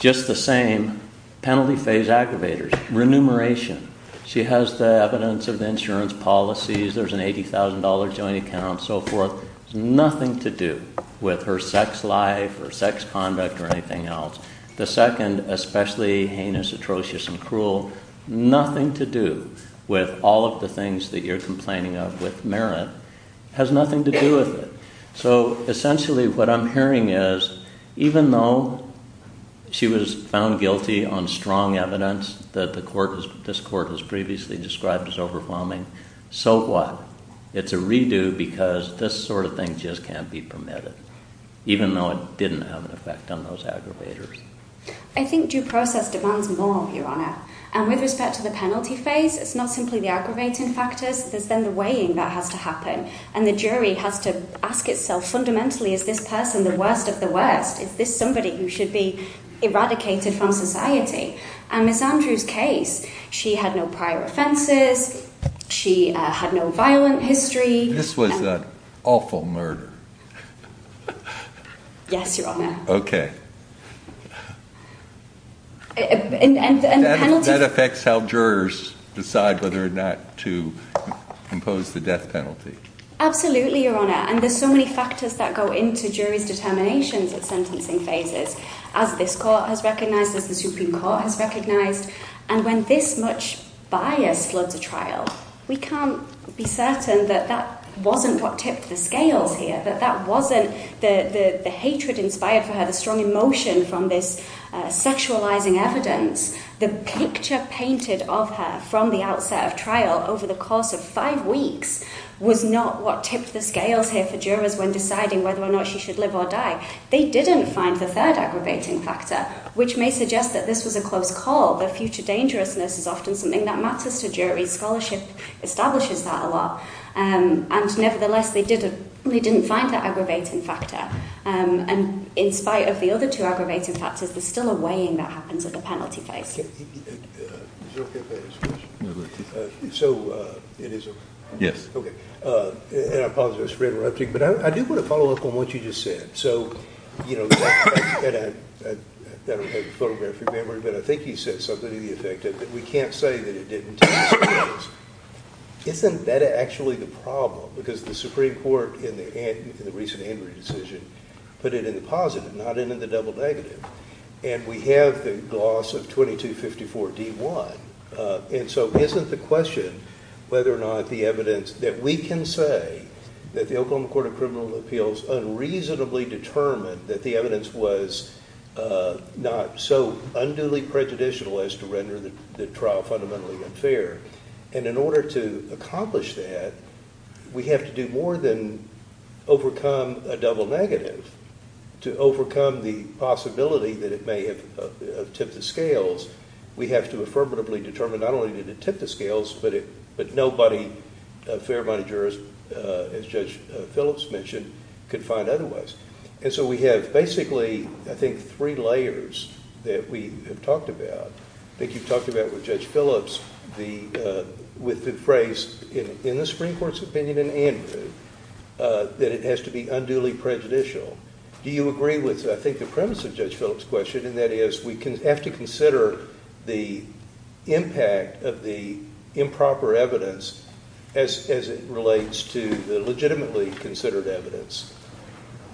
just the same, penalty phase aggravators, remuneration. She has the evidence of insurance policies, there's an $80,000 joint account, so forth. It's nothing to do with her sex life, or sex conduct, or anything else. The second, especially heinous, atrocious, and cruel, nothing to do with all of the things that you're complaining of with merit, has nothing to do with it. So essentially what I'm hearing is, even though she was found guilty on strong evidence that this court has previously described as overwhelming, so what? It's a redo because this sort of thing just can't be permitted. Even though it didn't have an effect on those aggravators. I think due process demands more, Your Honor. And with respect to the penalty phase, it's not simply the aggravating factors, it's then the weighing that has to happen. And the jury has to ask itself fundamentally, is this person the worst of the worst? Is this somebody who should be eradicated from society? And with Andrew's case, she had no prior offenses, she had no violent history. This was an awful murder. Yes, Your Honor. Okay. That affects how jurors decide whether or not to impose the death penalty. Absolutely, Your Honor. And there's so many factors that go into jury's determination at sentencing phases, as this court has recognized, as the Supreme Court has recognized. And when this much bias floods the trial, we can't be certain that that wasn't what tips the scales here, that that wasn't the hatred inspired by her, the strong emotion from this sexualizing evidence. The picture painted of her from the outset of trial over the course of five weeks was not what tips the scales here for jurors when deciding whether or not she should live or die. They didn't find the third aggravating factor, which may suggest that this was a close call. But future dangerousness is often something that matters to jury, because all shifts establishes that a lot. And nevertheless, they didn't find that aggravating factor. And in spite of the other two aggravating factors, there's still a weighing that happens at the penalty phase. So it is a positive spreader, I think. But I do want to follow up on what you just said. So, you know, and I never had your photograph in memory, but I think you said something to the effect that we can't say that it didn't tip the scales. Isn't that actually the problem? Because the Supreme Court, in the recent Andrew decision, put it in the positive, not in the double negative. And we have the loss of 2254-D1. And so isn't the question whether or not the evidence that we can say that the Oklahoma Court of Criminal Appeals unreasonably determined that the evidence was not so unduly prejudicial as to render the trial fundamentally unfair? And in order to accomplish that, we have to do more than overcome a double negative. To overcome the possibility that it may have tipped the scales, we have to affirmatively determine not only that it tipped the scales, but nobody, a fair amount of jurors, as Judge Phillips mentioned, could find otherwise. And so we have basically, I think, three layers that we have talked about. I think you've talked about with Judge Phillips, with the phrase in the Supreme Court's opinion in Andrew, that it has to be unduly prejudicial. Do you agree with, I think, the premise of Judge Phillips' question, and that is we have to consider the impact of the improper evidence as it relates to the legitimately considered evidence?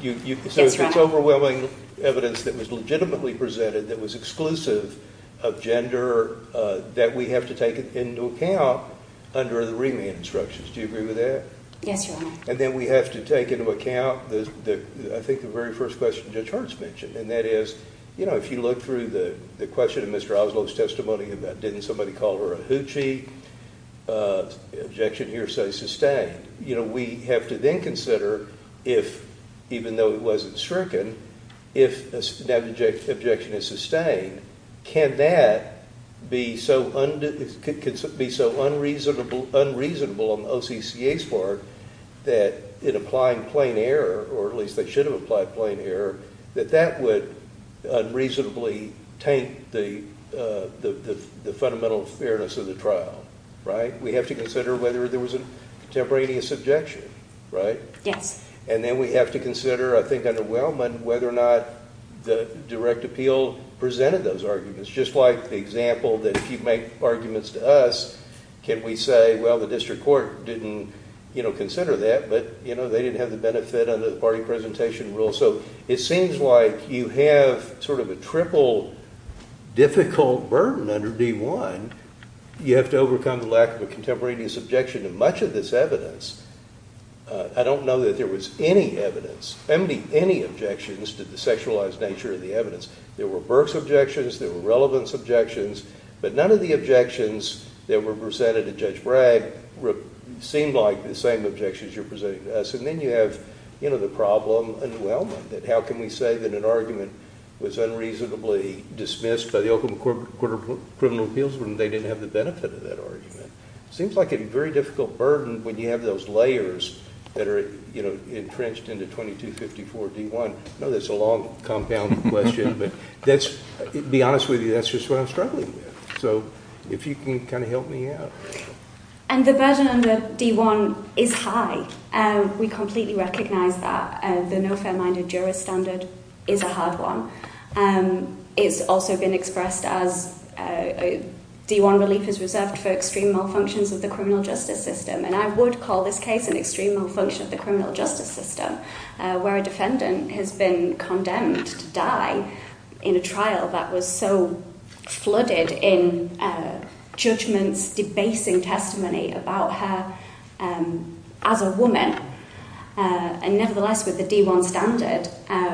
So if it's overwhelming evidence that was legitimately presented that was exclusive of gender, that we have to take into account under the remand instructions. Do you agree with that? Yes, Your Honor. And then we have to take into account, I think, the very first question Judge Hurts mentioned, and that is, you know, if you look through the question in Mr. Oswald's testimony about didn't somebody call her a hoochie, the objection here says to stay. You know, we have to then consider if, even though it wasn't stricken, if that objection is sustained, can that be so unreasonable on the OCCA's part that it applied plain error, or at least it should have applied plain error, that that would unreasonably taint the fundamental fairness of the trial, right? We have to consider whether there was a contemporaneous objection, right? Yeah. And then we have to consider, I think, under Wellman, whether or not the direct appeal presented those arguments. Just like the example that if you make arguments to us, can we say, well, the district court didn't, you know, consider that, but, you know, they didn't have the benefit under the party presentation rule. So it seems like you have sort of a triple difficult burden under D1. You have to overcome the lack of a contemporaneous objection in much of this evidence. I don't know that there was any evidence, any objections to the sexualized nature of the evidence. There were Burke's objections, there were Relevant's objections, but none of the objections that were presented to Judge Bragg seemed like the same objections you're presenting to us. And then you have, you know, the problem under Wellman, that how can we say that an argument was unreasonably dismissed by the Oakland Court of Criminal Appeals when they didn't have the benefit of that argument? It seems like a very difficult burden when you have those layers that are, you know, entrenched in the 2254 D1. I know that's a long compound question, but that's, to be honest with you, that's just what I'm struggling with. So if you can kind of help me out. And the burden under D1 is high. We completely recognize that. The no fair-minded juror standard is a hard one. It's also been expressed as D1 relief is reserved for extreme malfunctions of the criminal justice system. And I would call this case an extreme malfunction of the criminal justice system, where a defendant has been condemned to die in a trial that was so flooded in judgment, debasing testimony about her as a woman. And nevertheless, with the D1 standard,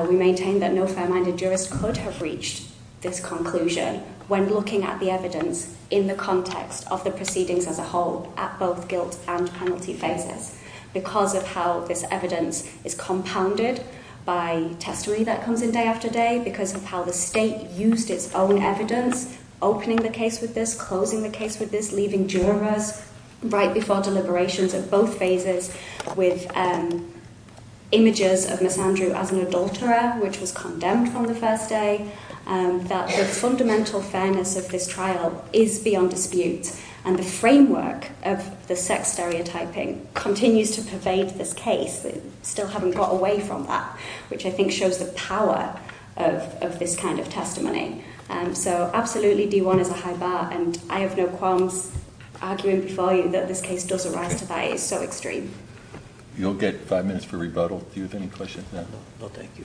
we maintain that no fair-minded jurors could have reached this conclusion when looking at the evidence in the context of the proceedings as a whole at both guilt and penalty phases, because of how this evidence is compounded by testimony that comes in day after day, because of how the state used its own evidence, opening the case with this, closing the case with this, leaving jurors right before deliberations at both phases with images of Ms. Andrew as an adulterer, which was condemned from the first day, and that the fundamental fairness of this trial is beyond dispute. And the framework of the sex stereotyping continues to pervade this case. We still haven't got away from that, which I think shows the power of this kind of testimony. So, absolutely, D1 is a high bar, and I have no qualms arguing for you that this case does arise to that extent. You'll get five minutes for rebuttal. Do you have any questions? No, thank you.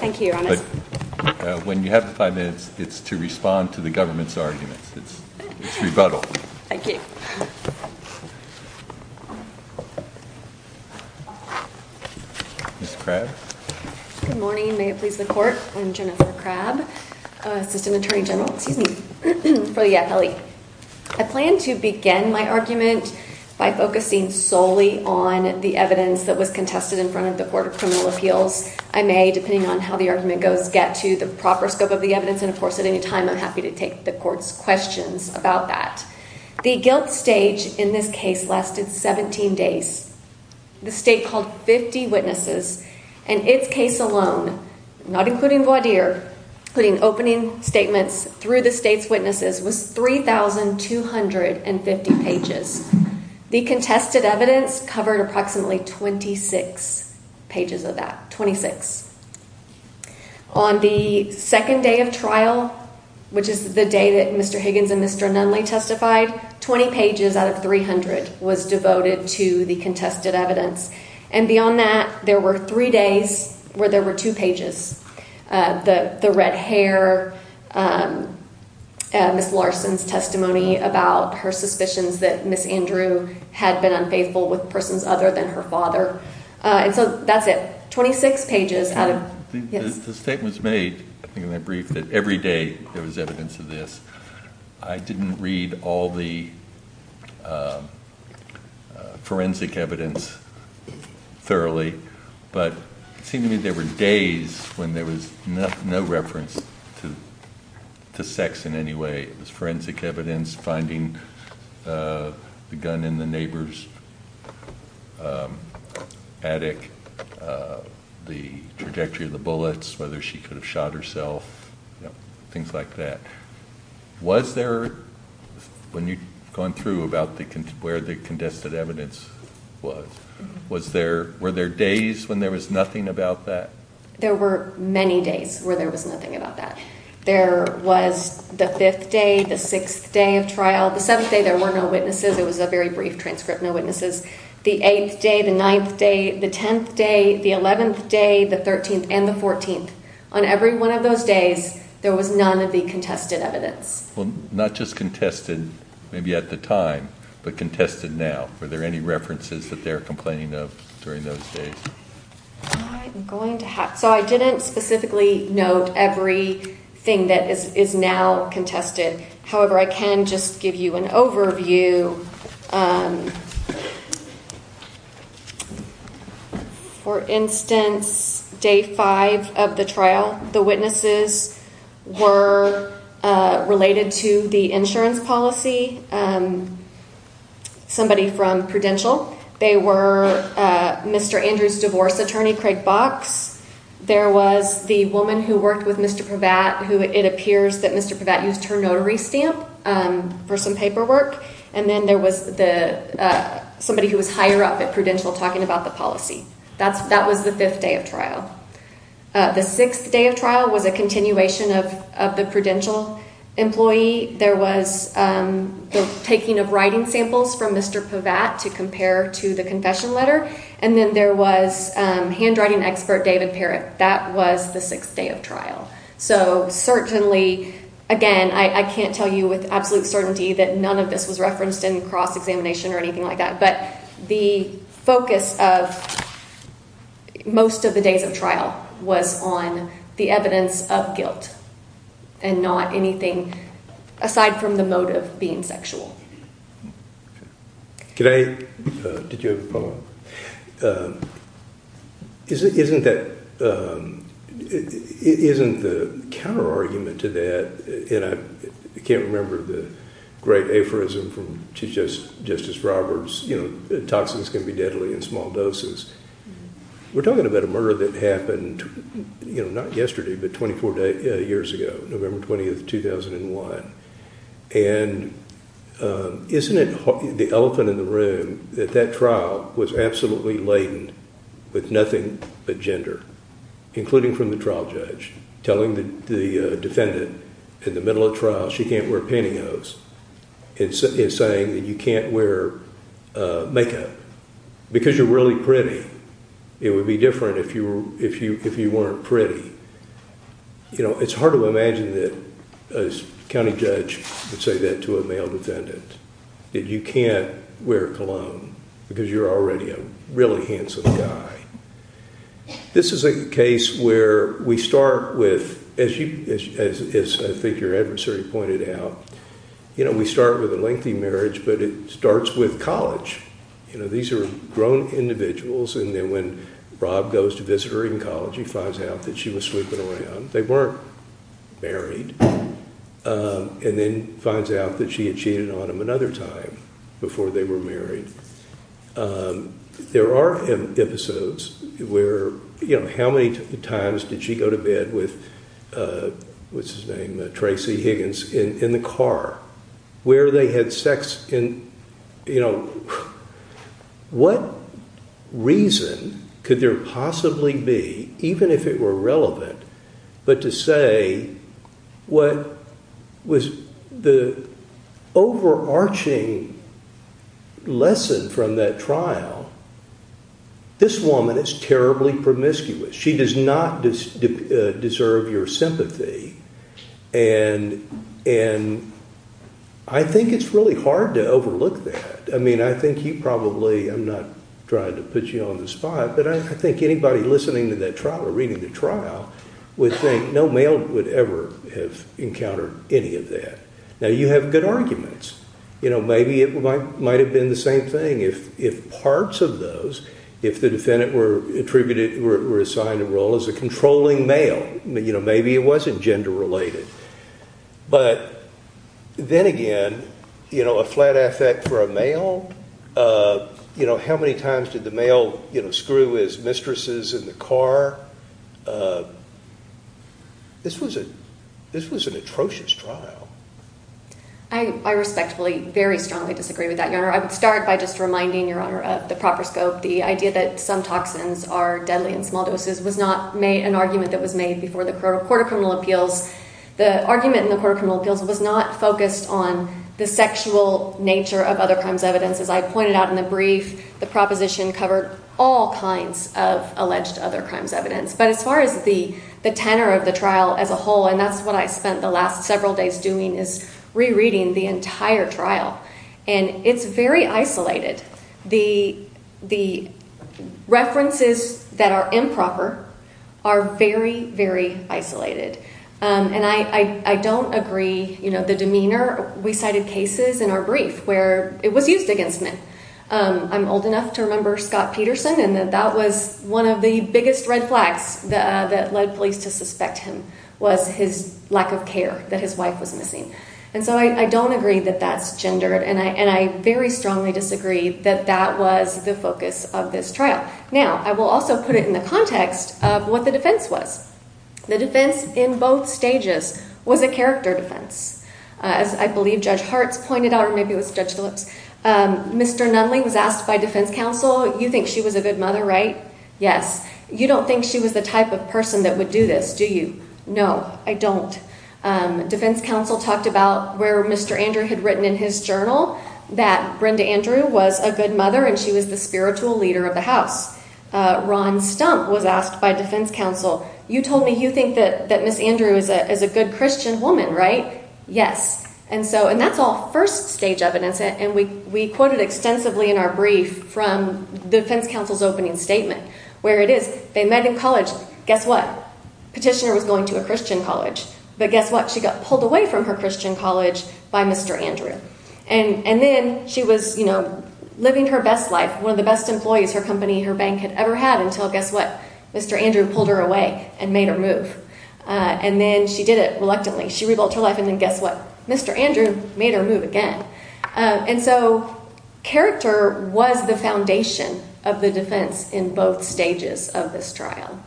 Thank you, Your Honor. When you have five minutes, it's to respond to the government's argument. It's rebuttal. Thank you. Ms. Crabb? Good morning. May it please the Court, I'm Jennifer Crabb, Assistant Attorney General. So, yes, Ellie. I plan to begin my argument by focusing solely on the evidence that was contested in front of the Court of Criminal Appeals. I may, depending on how the argument goes, get to the proper scope of the evidence, and of course, at any time, I'm happy to take the Court's questions about that. The guilt stage in this case lasted 17 days. The State called 50 witnesses, and this case alone, not including Gwadir, including opening statements through the State's witnesses, was 3,250 pages. The contested evidence covered approximately 26 pages of that, 26. On the second day of trial, which is the day that Mr. Higgins and Mr. Nunley testified, 20 pages out of 300 was devoted to the contested evidence. And beyond that, there were three days where there were two pages. The red hair, Ms. Larson's testimony about her suspicions that Ms. Andrew had been unfaithful with persons other than her father. That's it. 26 pages. The statement's made, in my brief, that every day there was evidence of this. I didn't read all the forensic evidence thoroughly, but it seemed to me there were days when there was no reference to sex in any way. Forensic evidence, finding the gun in the neighbor's attic, the trajectory of the bullets, whether she could have shot herself, things like that. Was there, when you've gone through about where the contested evidence was, were there days when there was nothing about that? There were many days where there was nothing about that. There was the fifth day, the sixth day of trial, the seventh day there were no witnesses, it was a very brief transcript, no witnesses. The eighth day, the ninth day, the tenth day, the eleventh day, the thirteenth, and the fourteenth. On every one of those days, there was none of the contested evidence. Well, not just contested, maybe at the time, but contested now. Were there any references that they were complaining of during those days? I didn't specifically note everything that is now contested. However, I can just give you an overview. For instance, day five of the trial, the witnesses were related to the insurance policy, somebody from Prudential. They were Mr. Andrews' divorce attorney, Craig Box. There was the woman who worked with Mr. Prevatt, who it appears that Mr. Prevatt used her notary stamp for some paperwork. And then there was somebody who was higher up at Prudential talking about the policy. That was the fifth day of trial. The sixth day of trial was a continuation of the Prudential employee. Certainly, there was the taking of writing samples from Mr. Prevatt to compare to the confession letter. And then there was handwriting expert, David Herrick. That was the sixth day of trial. So certainly, again, I can't tell you with absolute certainty that none of this was referenced in cross-examination or anything like that. But the focus of most of the days of trial was on the evidence of guilt and not anything aside from the motive being sexual. Can I add to Joe's poem? Isn't the counter-argument to that, and I can't remember the great aphorism from Chief Justice Roberts, toxins can be deadly in small doses. We're talking about a murder that happened not yesterday, but 24 years ago, November 20, 2001. And isn't it the elephant in the room that that trial was absolutely laden with nothing but gender, including from the trial judge, telling the defendant in the middle of trial she can't wear pantyhose and saying that you can't wear makeup because you're really pretty. It would be different if you weren't pretty. It's hard to imagine that a county judge would say that to a male defendant, that you can't wear a cologne because you're already a really handsome guy. This is a case where we start with, as I think your adversary pointed out, we start with a lengthy marriage, but it starts with college. These are grown individuals, and then when Rob goes to visit her in college, he finds out that she was sleeping around. They weren't married. And then finds out that she had cheated on him another time before they were married. There are episodes where, you know, how many times did she go to bed with, what's his name, Tracy Higgins, in the car? Where they had sex in, you know, what reason could there possibly be, even if it were relevant, but to say what was the overarching lesson from that trial, this woman is terribly promiscuous. She does not deserve your sympathy, and I think it's really hard to overlook that. I mean, I think you probably, I'm not trying to put you on the spot, but I think anybody listening to that trial or reading the trial would think no male would ever have encountered any of that. Now, you have good arguments. You know, maybe it might have been the same thing if parts of those, if the defendant were attributed, were assigned a role as a controlling male. You know, maybe it wasn't gender related. But then again, you know, a flat asset for a male, you know, how many times did the male, you know, screw his mistresses in the car? This was an atrocious trial. I respectfully, very strongly disagree with that, Your Honor. I would start by just reminding Your Honor of the proper scope. The idea that some toxins are deadly in small doses was not an argument that was made before the Court of Criminal Appeals. The argument in the Court of Criminal Appeals was not focused on the sexual nature of other crimes evidence. As I pointed out in the brief, the proposition covered all kinds of alleged other crimes evidence. But as far as the tenor of the trial as a whole, and that's what I spent the last several days doing, is rereading the entire trial. And it's very isolated. The references that are improper are very, very isolated. And I don't agree, you know, the demeanor. We cited cases in our brief where it was used against men. I'm old enough to remember Scott Peterson, and that was one of the biggest red flags that led police to suspect him was his lack of care, that his wife was missing. And so I don't agree that that's gender, and I very strongly disagree that that was the focus of this trial. Now, I will also put it in the context of what the defense was. The defense in both stages was a character defense. As I believe Judge Hart pointed out, or maybe it was Judge Phillips, Mr. Nunling was asked by defense counsel, you think she was a good mother, right? Yes. You don't think she was the type of person that would do this, do you? No, I don't. Defense counsel talked about where Mr. Andrew had written in his journal that Brenda Andrew was a good mother and she was the spiritual leader of the house. Ron Stump was asked by defense counsel, you told me you think that Ms. Andrew is a good Christian woman, right? Yes. And that's all first stage evidence, and we quoted extensively in our brief from defense counsel's opening statement, where it is, they met in college, guess what? Petitioner was going to a Christian college, but guess what? She got pulled away from her Christian college by Mr. Andrew. And then she was living her best life, one of the best employees her company, her bank, had ever had until, guess what? Mr. Andrew pulled her away and made her move. And then she did it reluctantly. She rebuilt her life and then guess what? Mr. Andrew made her move again. And so character was the foundation of the defense in both stages of this trial.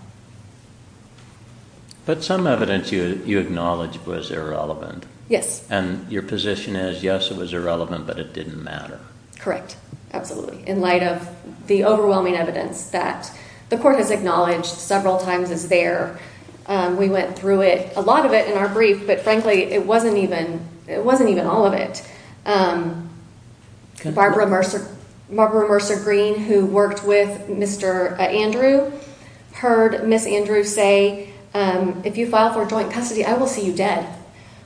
But some evidence you acknowledged was irrelevant. Yes. And your position is, yes, it was irrelevant, but it didn't matter. Correct. Absolutely. In light of the overwhelming evidence that the court has acknowledged several times it's there. We went through it, a lot of it in our brief, but frankly it wasn't even all of it. Barbara Mercer Green, who worked with Mr. Andrew, heard Ms. Andrew say, if you file for joint custody, I will see you dead.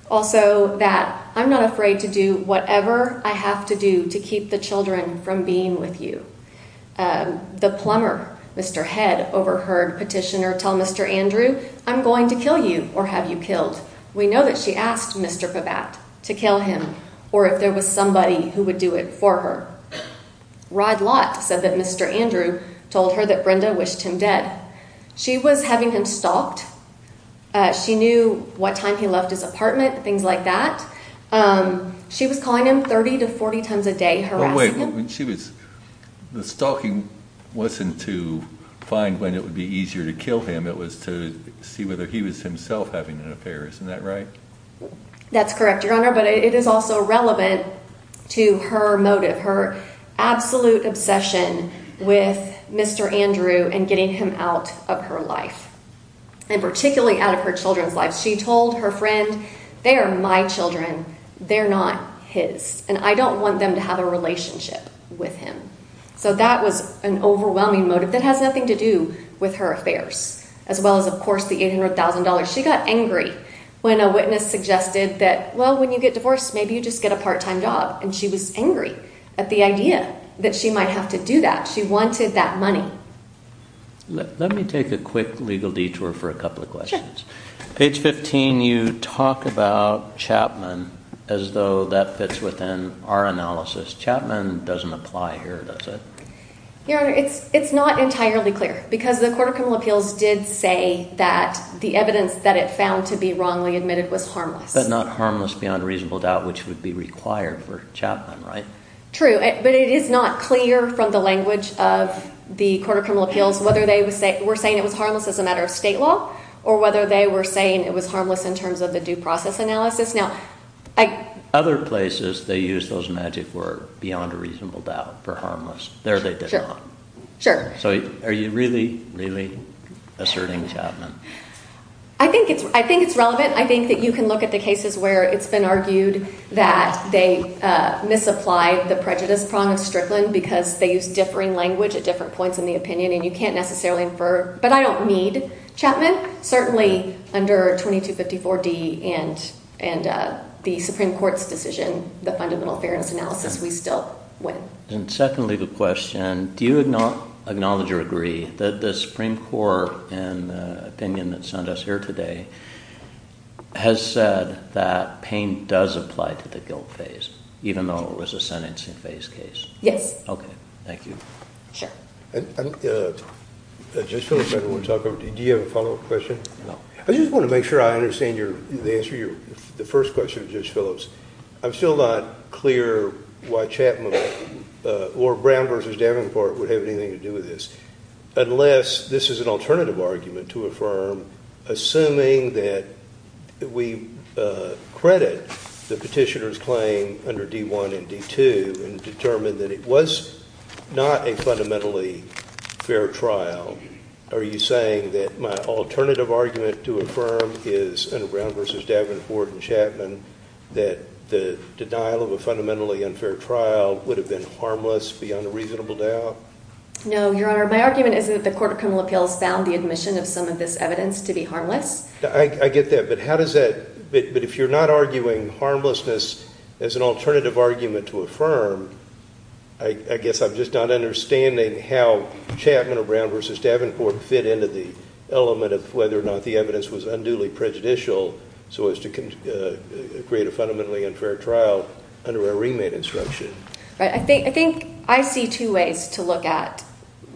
Also that I'm not afraid to do whatever I have to do to keep the children from being with you. The plumber, Mr. Head, overheard Petitioner tell Mr. Andrew, I'm going to kill you or have you killed. We know that she asked Mr. Pabat to kill him or if there was somebody who would do it for her. Rod Lott said that Mr. Andrew told her that Brenda wished him dead. She was having him stalked. She knew what time he left his apartment, things like that. She was calling him 30 to 40 times a day harassing him. The stalking wasn't to find when it would be easier to kill him. It was to see whether he was himself having an affair. Isn't that right? That's correct, Your Honor, but it is also relevant to her motive, her absolute obsession with Mr. Andrew and getting him out of her life. And particularly out of her children's lives. She told her friend, they are my children. They're not his. And I don't want them to have a relationship with him. So that was an overwhelming motive that has nothing to do with her affairs, as well as, of course, the $800,000. She got angry when a witness suggested that, well, when you get divorced, maybe you just get a part-time job. And she was angry at the idea that she might have to do that. She wanted that money. Let me take a quick legal detour for a couple of questions. Sure. Page 15, you talk about Chapman as though that fits within our analysis. Chapman doesn't apply here, does it? Your Honor, it's not entirely clear, because the Court of Criminal Appeals did say that the evidence that it found to be wrongly admitted was harmless. But not harmless beyond reasonable doubt, which would be required for Chapman, right? True, but it is not clear from the language of the Court of Criminal Appeals whether they were saying it was harmless as a matter of state law or whether they were saying it was harmless in terms of the due process analysis. Other places they use those magic words, beyond reasonable doubt, for harmless. There they did not. Sure. So are you really, really asserting Chapman? I think it's relevant. I think that you can look at the cases where it's been argued that they misapplied the prejudice problem of Strickland because they used differing language at different points in the opinion, and you can't necessarily infer. But I don't need Chapman. Certainly under 2254D and the Supreme Court's decision, the fundamental fairness analysis, we still win. And secondly, the question, do you acknowledge or agree that the Supreme Court in the opinion that's sent us here today has said that pain does apply to the guilt phase, even though it was a sentencing phase case? Yes. Okay, thank you. Sure. Judge Phillips, I don't want to talk over to you. Do you have a follow-up question? No. I just want to make sure I understand your answer, the first question of Judge Phillips. I'm still not clear why Chapman or Brown v. Davenport would have anything to do with this, unless this is an alternative argument to affirm, assuming that we credit the petitioner's claim under D1 and D2 and determined that it was not a fundamentally fair trial. Are you saying that my alternative argument to affirm is, under Brown v. Davenport and Chapman, that the denial of a fundamentally unfair trial would have been harmless beyond a reasonable doubt? No, Your Honor. My argument is that the Court of Criminal Appeals found the admission of some of this evidence to be harmless. I get that. But how does that – but if you're not arguing harmlessness as an alternative argument to affirm, I guess I'm just not understanding how Chapman or Brown v. Davenport fit into the element of whether or not the evidence was unduly prejudicial so as to create a fundamentally unfair trial under a ringmate instruction. I think I see two ways to look at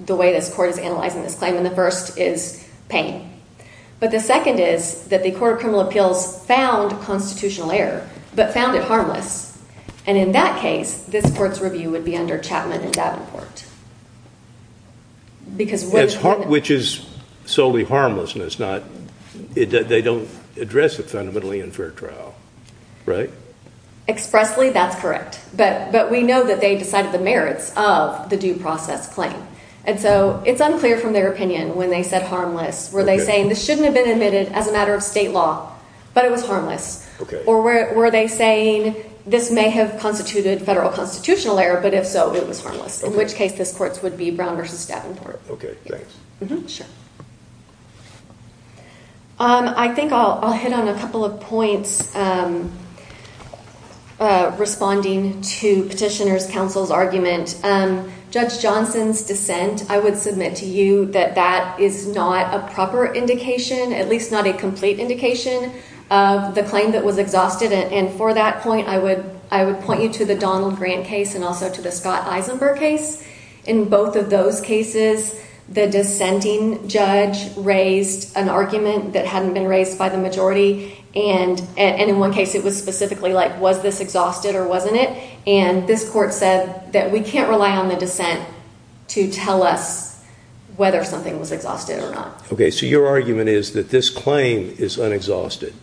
the way that the Court of Analyzation is claiming. The first is pain. But the second is that the Court of Criminal Appeals found constitutional error, but found it harmless. And in that case, this Court's review would be under Chapman and Davenport. Which is solely harmlessness, not that they don't address it fundamentally unfair trial. Right? Expressly, that's correct. But we know that they decided the merits of the due process claim. And so it's unclear from their opinion when they said harmless, were they saying this shouldn't have been admitted as a matter of state law, but it was harmless. Or were they saying this may have constituted federal constitutional error, but if so, it was harmless. In which case, this Court would be Brown v. Davenport. I think I'll hit on a couple of points responding to Petitioner's Counsel's argument. Judge Johnson's dissent, I would submit to you that that is not a proper indication, at least not a complete indication, of the claim that was exhausted. And for that point, I would point you to the Donald Grant case and also to the Scott Eisenberg case. In both of those cases, the dissenting judge raised an argument that hadn't been raised by the majority. And in one case, it was specifically like, was this exhausted or wasn't it? And this Court said that we can't rely on the dissent to tell us whether something was exhausted or not. OK, so your argument is that this claim is unexhausted.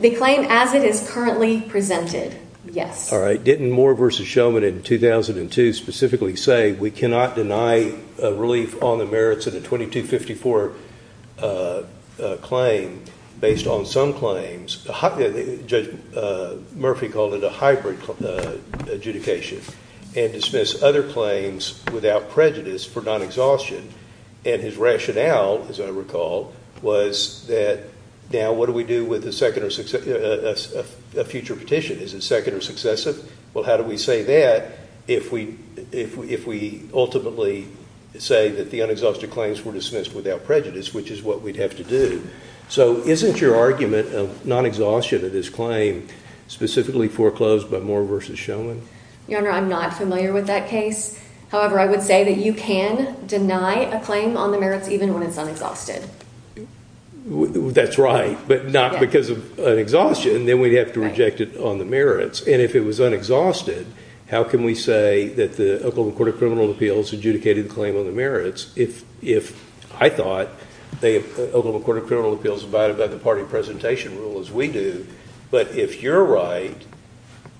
The claim as it is currently presented, yes. All right. Didn't Moore v. Shulman in 2002 specifically say we cannot deny relief on the merits of the 2254 claim based on some claims? Judge Murphy called it a hybrid adjudication. And dismiss other claims without prejudice for non-exhaustion. And his rationale, as I recall, was that, now, what do we do with a future petition? Is it second or successive? Well, how do we say that if we ultimately say that the unexhausted claims were dismissed without prejudice, which is what we'd have to do? So isn't your argument of non-exhaustion of this claim specifically foreclosed by Moore v. Shulman? Your Honor, I'm not familiar with that case. However, I would say that you can deny a claim on the merits even when it's unexhausted. That's right, but not because of an exhaustion. Then we'd have to reject it on the merits. And if it was unexhausted, how can we say that the Oklahoma Court of Criminal Appeals adjudicated the claim on the merits if I thought the Oklahoma Court of Criminal Appeals abided by the party presentation rule as we do? But if you're right,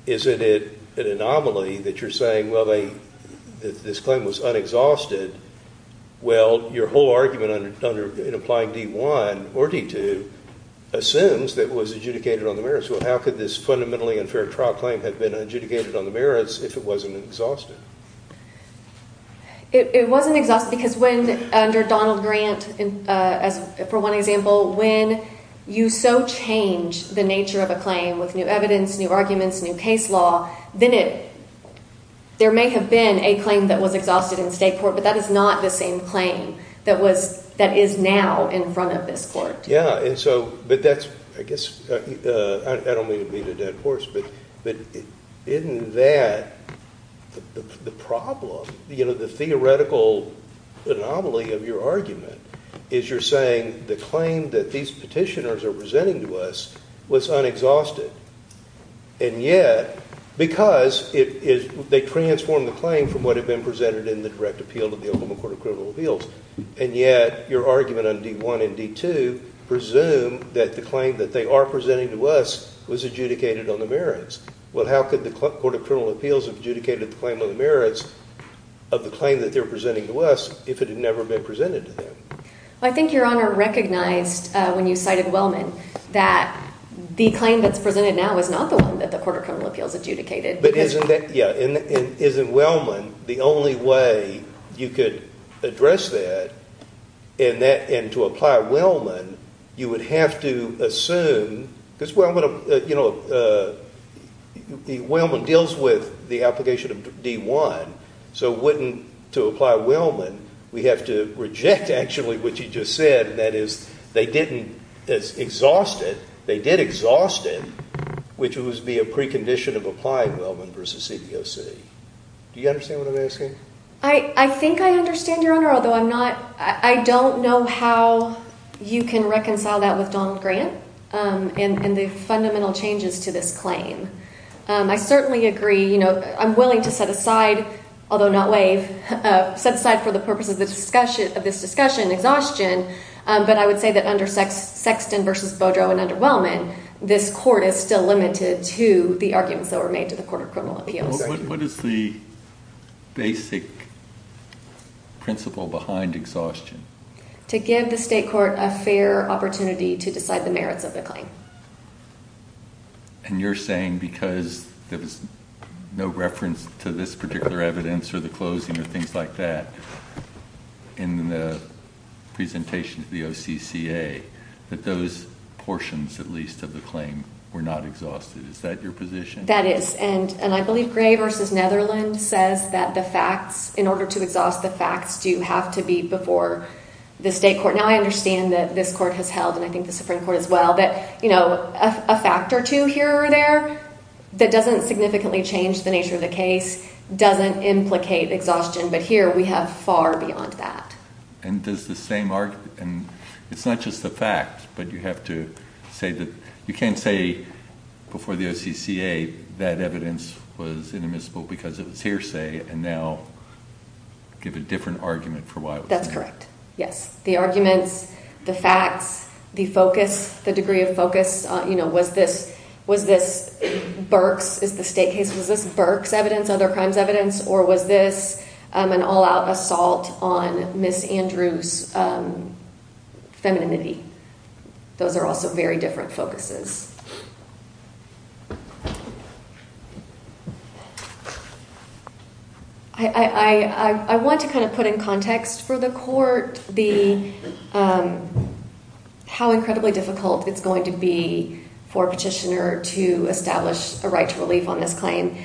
isn't it an anomaly that you're saying, well, this claim was unexhausted? Well, your whole argument in applying D-1 or D-2 assumes that it was adjudicated on the merits. Well, how could this fundamentally unfair trial claim have been adjudicated on the merits if it wasn't exhausted? It wasn't exhausted because under Donald Grant, for one example, when you so change the nature of a claim with new evidence, new arguments, new case law, then there may have been a claim that was exhausted in the state court, but that is not the same claim that is now in front of this court. Yeah, but that's, I guess, I don't mean to be the dead horse, but isn't that the problem? The theoretical anomaly of your argument is you're saying the claim that these petitioners are presenting to us was unexhausted. And yet, because they transformed the claim from what had been presented in the direct appeal of the Oklahoma Court of Criminal Appeals, and yet your argument on D-1 and D-2 presume that the claim that they are presenting to us was adjudicated on the merits. Well, how could the Court of Criminal Appeals have adjudicated the claim on the merits of the claim that they're presenting to us if it had never been presented to them? Well, I think Your Honor recognized when you cited Wellman that the claim that's presented now is not the one that the Court of Criminal Appeals adjudicated. But isn't Wellman the only way you could address that? And to apply Wellman, you would have to assume, because Wellman deals with the application of D-1. So wouldn't, to apply Wellman, we have to reject actually what you just said, that is, they didn't exhaust it. They did exhaust it, which would be a precondition of applying Wellman versus CBOC. Do you understand what I'm asking? I think I understand, Your Honor, although I don't know how you can reconcile that with Don's grant and the fundamental changes to this claim. I certainly agree. I'm willing to set aside, although not waive, set aside for the purposes of this discussion exhaustion. But I would say that under Sexton versus Beaudreau and under Wellman, this court is still limited to the arguments that were made to the Court of Criminal Appeals. What is the basic principle behind exhaustion? To give the state court a fair opportunity to decide the merits of the claim. And you're saying because there's no reference to this particular evidence or the closing or things like that in the presentation to the OCCA, that those portions, at least, of the claim were not exhausted. Is that your position? That is. And I believe Gray versus Netherland says that the facts, in order to exhaust the facts, do have to be before the state court. Now, I understand that this court has held, and I think the Supreme Court as well, that a fact or two here or there that doesn't significantly change the nature of the case doesn't implicate exhaustion. But here, we have far beyond that. And does the same argument, and it's not just the facts, but you have to say that you can't say before the OCCA that evidence was inadmissible because of hearsay and now give a different argument for why it was. That's correct. Yes. The argument, the facts, the focus, the degree of focus, was this Burke's? Is this Burke's evidence, other crimes' evidence? Or was this an all-out assault on Ms. Andrews' femininity? Those are also very different focuses. I want to put in context for the court how incredibly difficult it's going to be for a petitioner to establish a right to relief on this claim.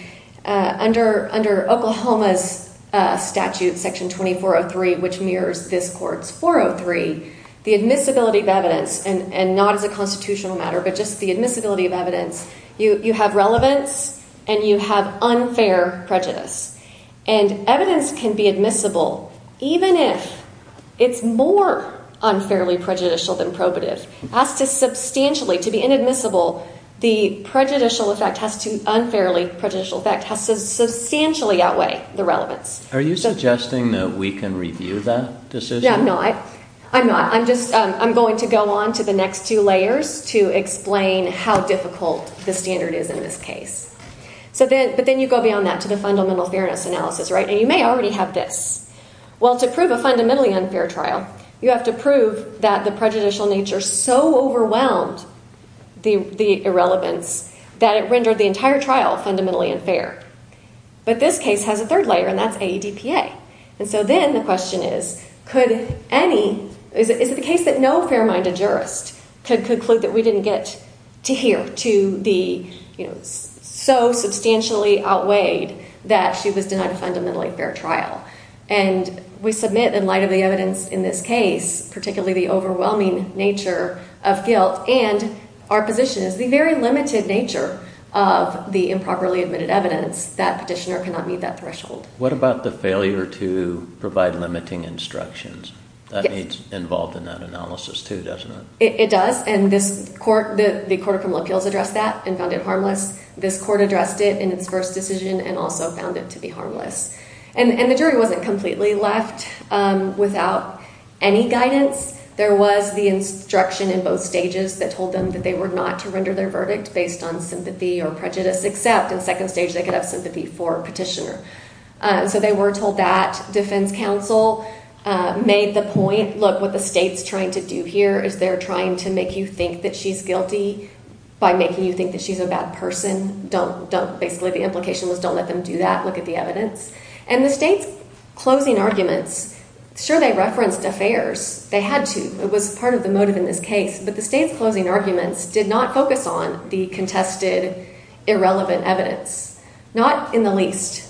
Under Oklahoma's statute, Section 2403, which mirrors this court's 403, the admissibility of evidence, and not as a constitutional matter, but just the admissibility of evidence, you have relevance and you have unfair prejudice. Evidence can be admissible even if it's more unfairly prejudicial than probative. To be inadmissible, the unfairly prejudicial effect has to substantially outweigh the relevance. Are you suggesting that we can review that decision? No, I'm not. I'm going to go on to the next two layers to explain how difficult the standard is in this case. But then you go beyond that to the fundamental fairness analysis. You may already have this. To prove a fundamentally unfair trial, you have to prove that the prejudicial nature so overwhelmed the irrelevance that it rendered the entire trial fundamentally unfair. But this case has a third layer, and that's AEDPA. Then the question is, is it the case that no fair-minded jurist to conclude that we didn't get to hear to be so substantially outweighed that she was denied a fundamentally fair trial? And we submit in light of the evidence in this case, particularly the overwhelming nature of guilt, and our position is the very limited nature of the improperly admitted evidence that petitioner cannot meet that threshold. What about the failure to provide limiting instructions? That's involved in that analysis too, doesn't it? It does, and the court from Lockhills addressed that and found it harmless. This court addressed it in its first decision and also found it to be harmless. And the jury wasn't completely left without any guidance. There was the instruction in both stages that told them that they were not to render their verdict based on sympathy or prejudice, except in second stage they could have sympathy for petitioner. So they were told that defense counsel made the point, look, what the state's trying to do here is they're trying to make you think that she's guilty by making you think that she's a bad person. Basically the implication was don't let them do that. Look at the evidence. And the state's closing argument, sure they referenced affairs. They had to. It was part of the motive in this case. But the state's closing argument did not focus on the contested irrelevant evidence, not in the least.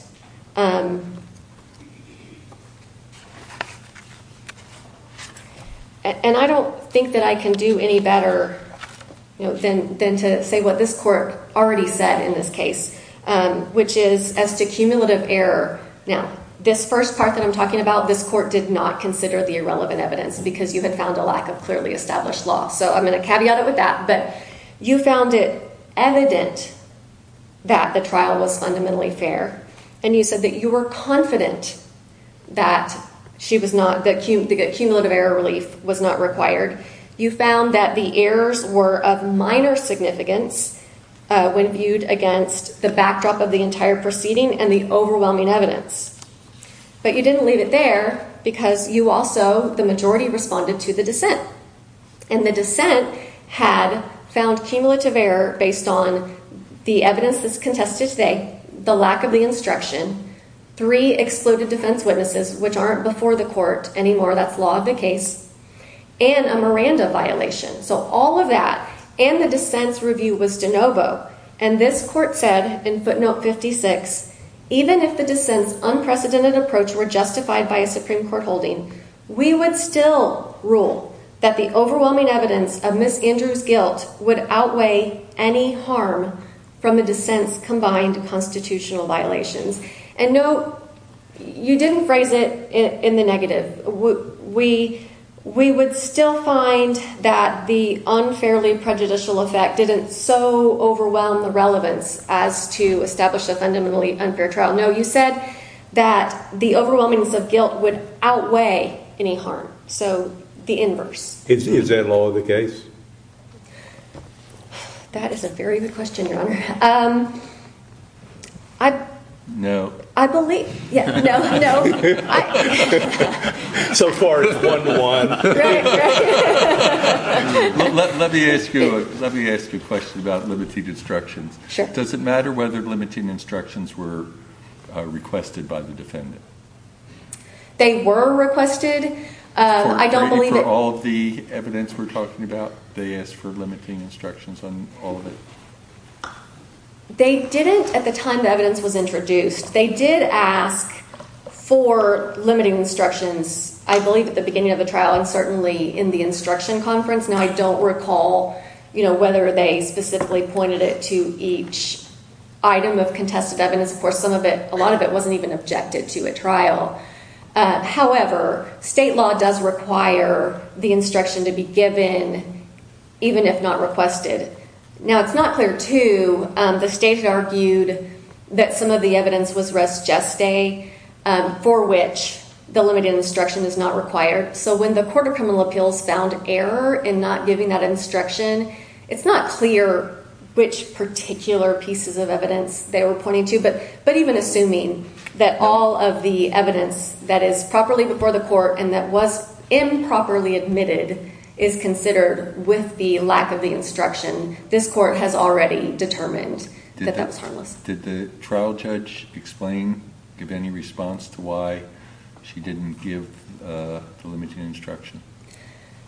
And I don't think that I can do any better than to say what this court already said in this case, which is as to cumulative error. Now, this first part that I'm talking about, this court did not consider the irrelevant evidence because you had found a lack of clearly established law. So I'm going to caveat it with that. But you found it evident that the trial was fundamentally fair. And you said that you were confident that cumulative error relief was not required. You found that the errors were of minor significance when viewed against the backdrop of the entire proceeding and the overwhelming evidence. But you didn't leave it there because you also, the majority, responded to the dissent. And the dissent had found cumulative error based on the evidence that's contested today, the lack of the instruction, three exclusive defense witnesses, which aren't before the court anymore, that's law of the case, and a Miranda violation. So all of that and the dissent review was de novo. And this court said in footnote 56, even if the dissent's unprecedented approach were justified by a Supreme Court holding, we would still rule that the overwhelming evidence of Ms. Andrews' guilt would outweigh any harm from the dissent's combined constitutional violations. And no, you didn't phrase it in the negative. We would still find that the unfairly prejudicial effect didn't so overwhelm the relevance as to establish a fundamentally unfair trial. No, you said that the overwhelmings of guilt would outweigh any harm. So the inverse. Is that law of the case? That is a very good question, Your Honor. I... No. I believe... Yes, no, no. So far, it's one-to-one. Let me ask you a question about limited instruction. Sure. Does it matter whether limiting instructions were requested by the defendant? They were requested. I don't believe... They asked for limiting instructions on all of it. They didn't at the time the evidence was introduced. They did ask for limiting instructions. I believe at the beginning of the trial and certainly in the instruction conference. Now, I don't recall, you know, whether they specifically pointed it to each item of contested evidence. Of course, a lot of it wasn't even objected to at trial. However, state law does require the instruction to be given even if not requested. Now, it's not clear, too. The state argued that some of the evidence was res geste for which the limited instruction was not required. So when the Court of Criminal Appeals found error in not giving that instruction, it's not clear which particular pieces of evidence they were pointing to. But even assuming that all of the evidence that is properly before the court and that was improperly admitted is considered with the lack of the instruction, this court has already determined that that's wrong. Did the trial judge explain, give any response to why she didn't give the limited instruction?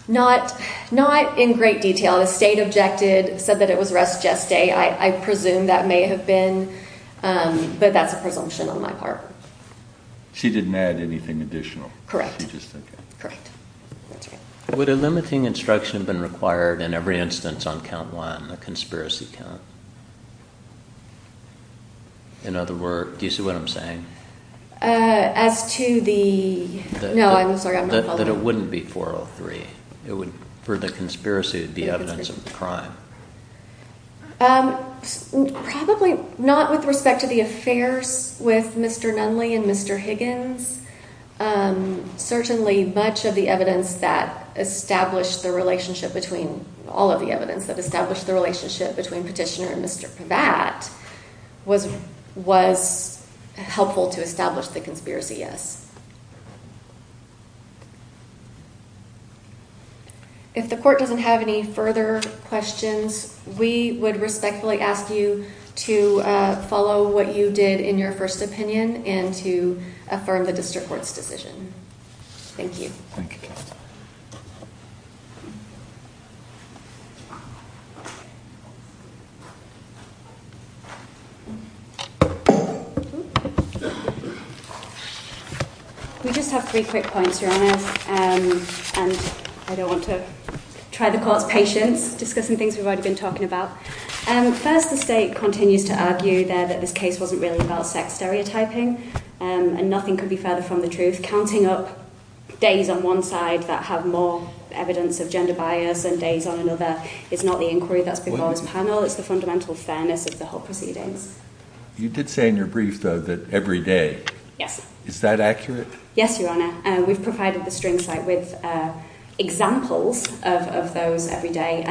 Not in great detail. The state objected, said that it was res geste. I presume that may have been, but that's a presumption on my part. She didn't add anything additional? Correct. Would a limiting instruction have been required in every instance on count one, a conspiracy count? In other words, do you see what I'm saying? As to the... No, I'm sorry. That it wouldn't be 403. It would, for the conspiracy, be evidence of a crime. Probably not with respect to the affairs with Mr. Nunley and Mr. Higgins. Certainly, much of the evidence that established the relationship between... All of the evidence that established the relationship between Petitioner and Mr. Pravat was helpful to establish the conspiracy, yes. If the court doesn't have any further questions, we would respectfully ask you to follow what you did in your first opinion and to affirm the district court's decision. Thank you. We just have three quick points, Joanna, and I don't want to try to call out patience discussing things we've already been talking about. First, the state continues to argue that this case wasn't really about sex stereotyping and nothing could be further from the truth. Counting up days on one side that have more evidence of gender bias than days on another is not the inquiry that's before this panel. It's the fundamental fairness of the whole proceeding. You did say in your brief, though, that every day. Yes. Is that accurate? Yes, Your Honour. We've provided the string site with examples of those every day.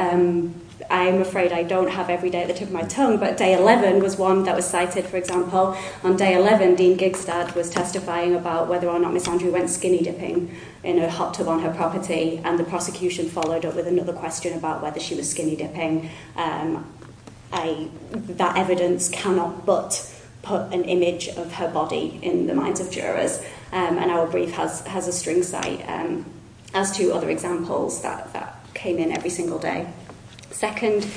I'm afraid I don't have every day at the tip of my tongue, but day 11 was one that was cited, for example. On day 11, Dean Gigstad was testifying about whether or not Miss Andrew went skinny dipping in a hot tub on her property, and the prosecution followed up with another question about whether she was skinny dipping. That evidence cannot but put an image of her body in the minds of jurors, and our brief has a string site. As to other examples, that came in every single day. Second,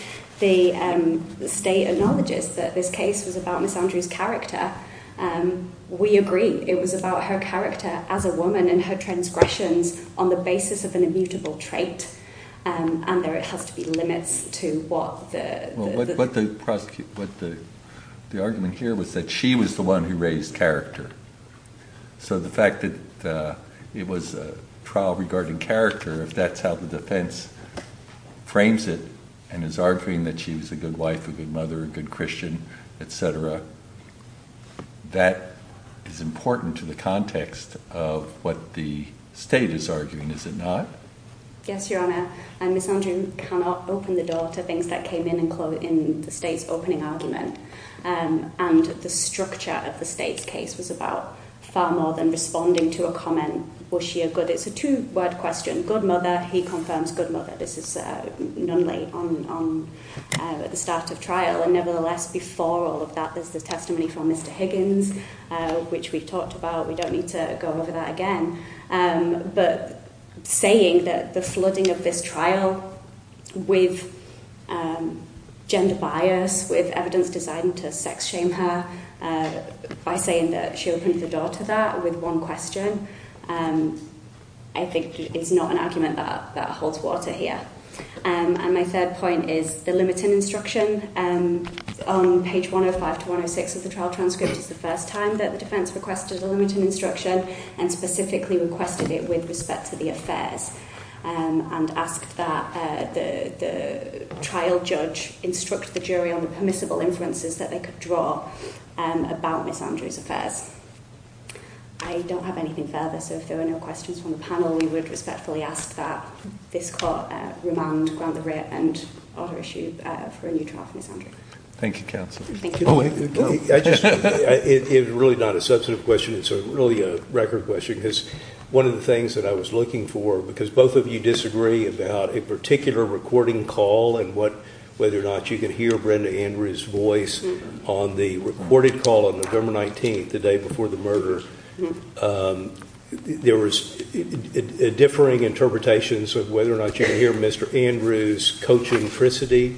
the State acknowledges that this case was about Miss Andrew's character. We agree. It was about her character as a woman and her transgression on the basis of an immutable trait, and there had to be limits to what the... But the argument here was that she was the one who raised character. So the fact that it was a trial regarding character, if that's how the defence frames it, and is arguing that she was a good wife, a good mother, a good Christian, etc., that is important to the context of what the State is arguing, is it not? Yes, Your Honour. Miss Andrew cannot open the door to things that came in in the State's opening argument, and the structure of the State case was about far more than responding to a comment, was she a good... It's a two-word question. Good mother, he confirms good mother. This is Nunley at the start of trial. And nevertheless, before all of that, there's the testimony from Mr Higgins, which we talked about. We don't need to go over that again. But saying that the flooding of this trial with gender bias, with evidence designed to sex shame her, by saying that she opens the door to that with one question, I think is not an argument that holds water here. And my third point is the limiting instruction. On page 105-106 of the trial transcript, it's the first time that the defence requested a limiting instruction, and specifically requested it with respect to the affairs, and asked that the trial judge instruct the jury on the permissible inferences that they could draw about Ms Andrews' affairs. I don't have anything further, so if there are no questions from the panel, we would respectfully ask that this court remand Grant LeRitt and other issues for a new trial for Ms Andrews. Thank you, counsel. Thank you. It's really not a substantive question, it's really a record question, because one of the things that I was looking for, because both of you disagree about a particular recording call, and whether or not you could hear Brenda Andrews' voice on the recorded call on November 19th, the day before the murder. There was differing interpretations of whether or not you could hear Mr Andrews coaching Frisidy.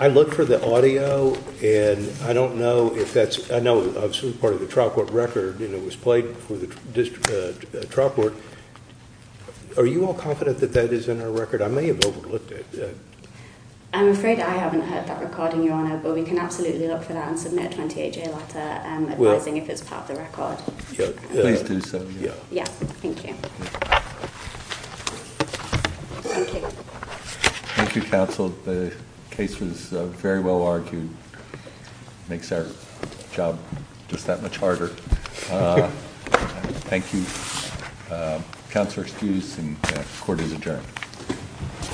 I looked for the audio, and I don't know if that's... I know it's part of the trial court record, and it was played with the district trial court. Are you all confident that that is in the record? I may have overlooked it. I'm afraid I haven't heard that recording, Your Honor, but we can absolutely look for that and submit a 28-day letter advising if it's part of the record. Thank you. Yes, thank you. Thank you, counsel. The case was very well argued. It makes our job just that much harder. Thank you. Counselor Stewart, the court is adjourned.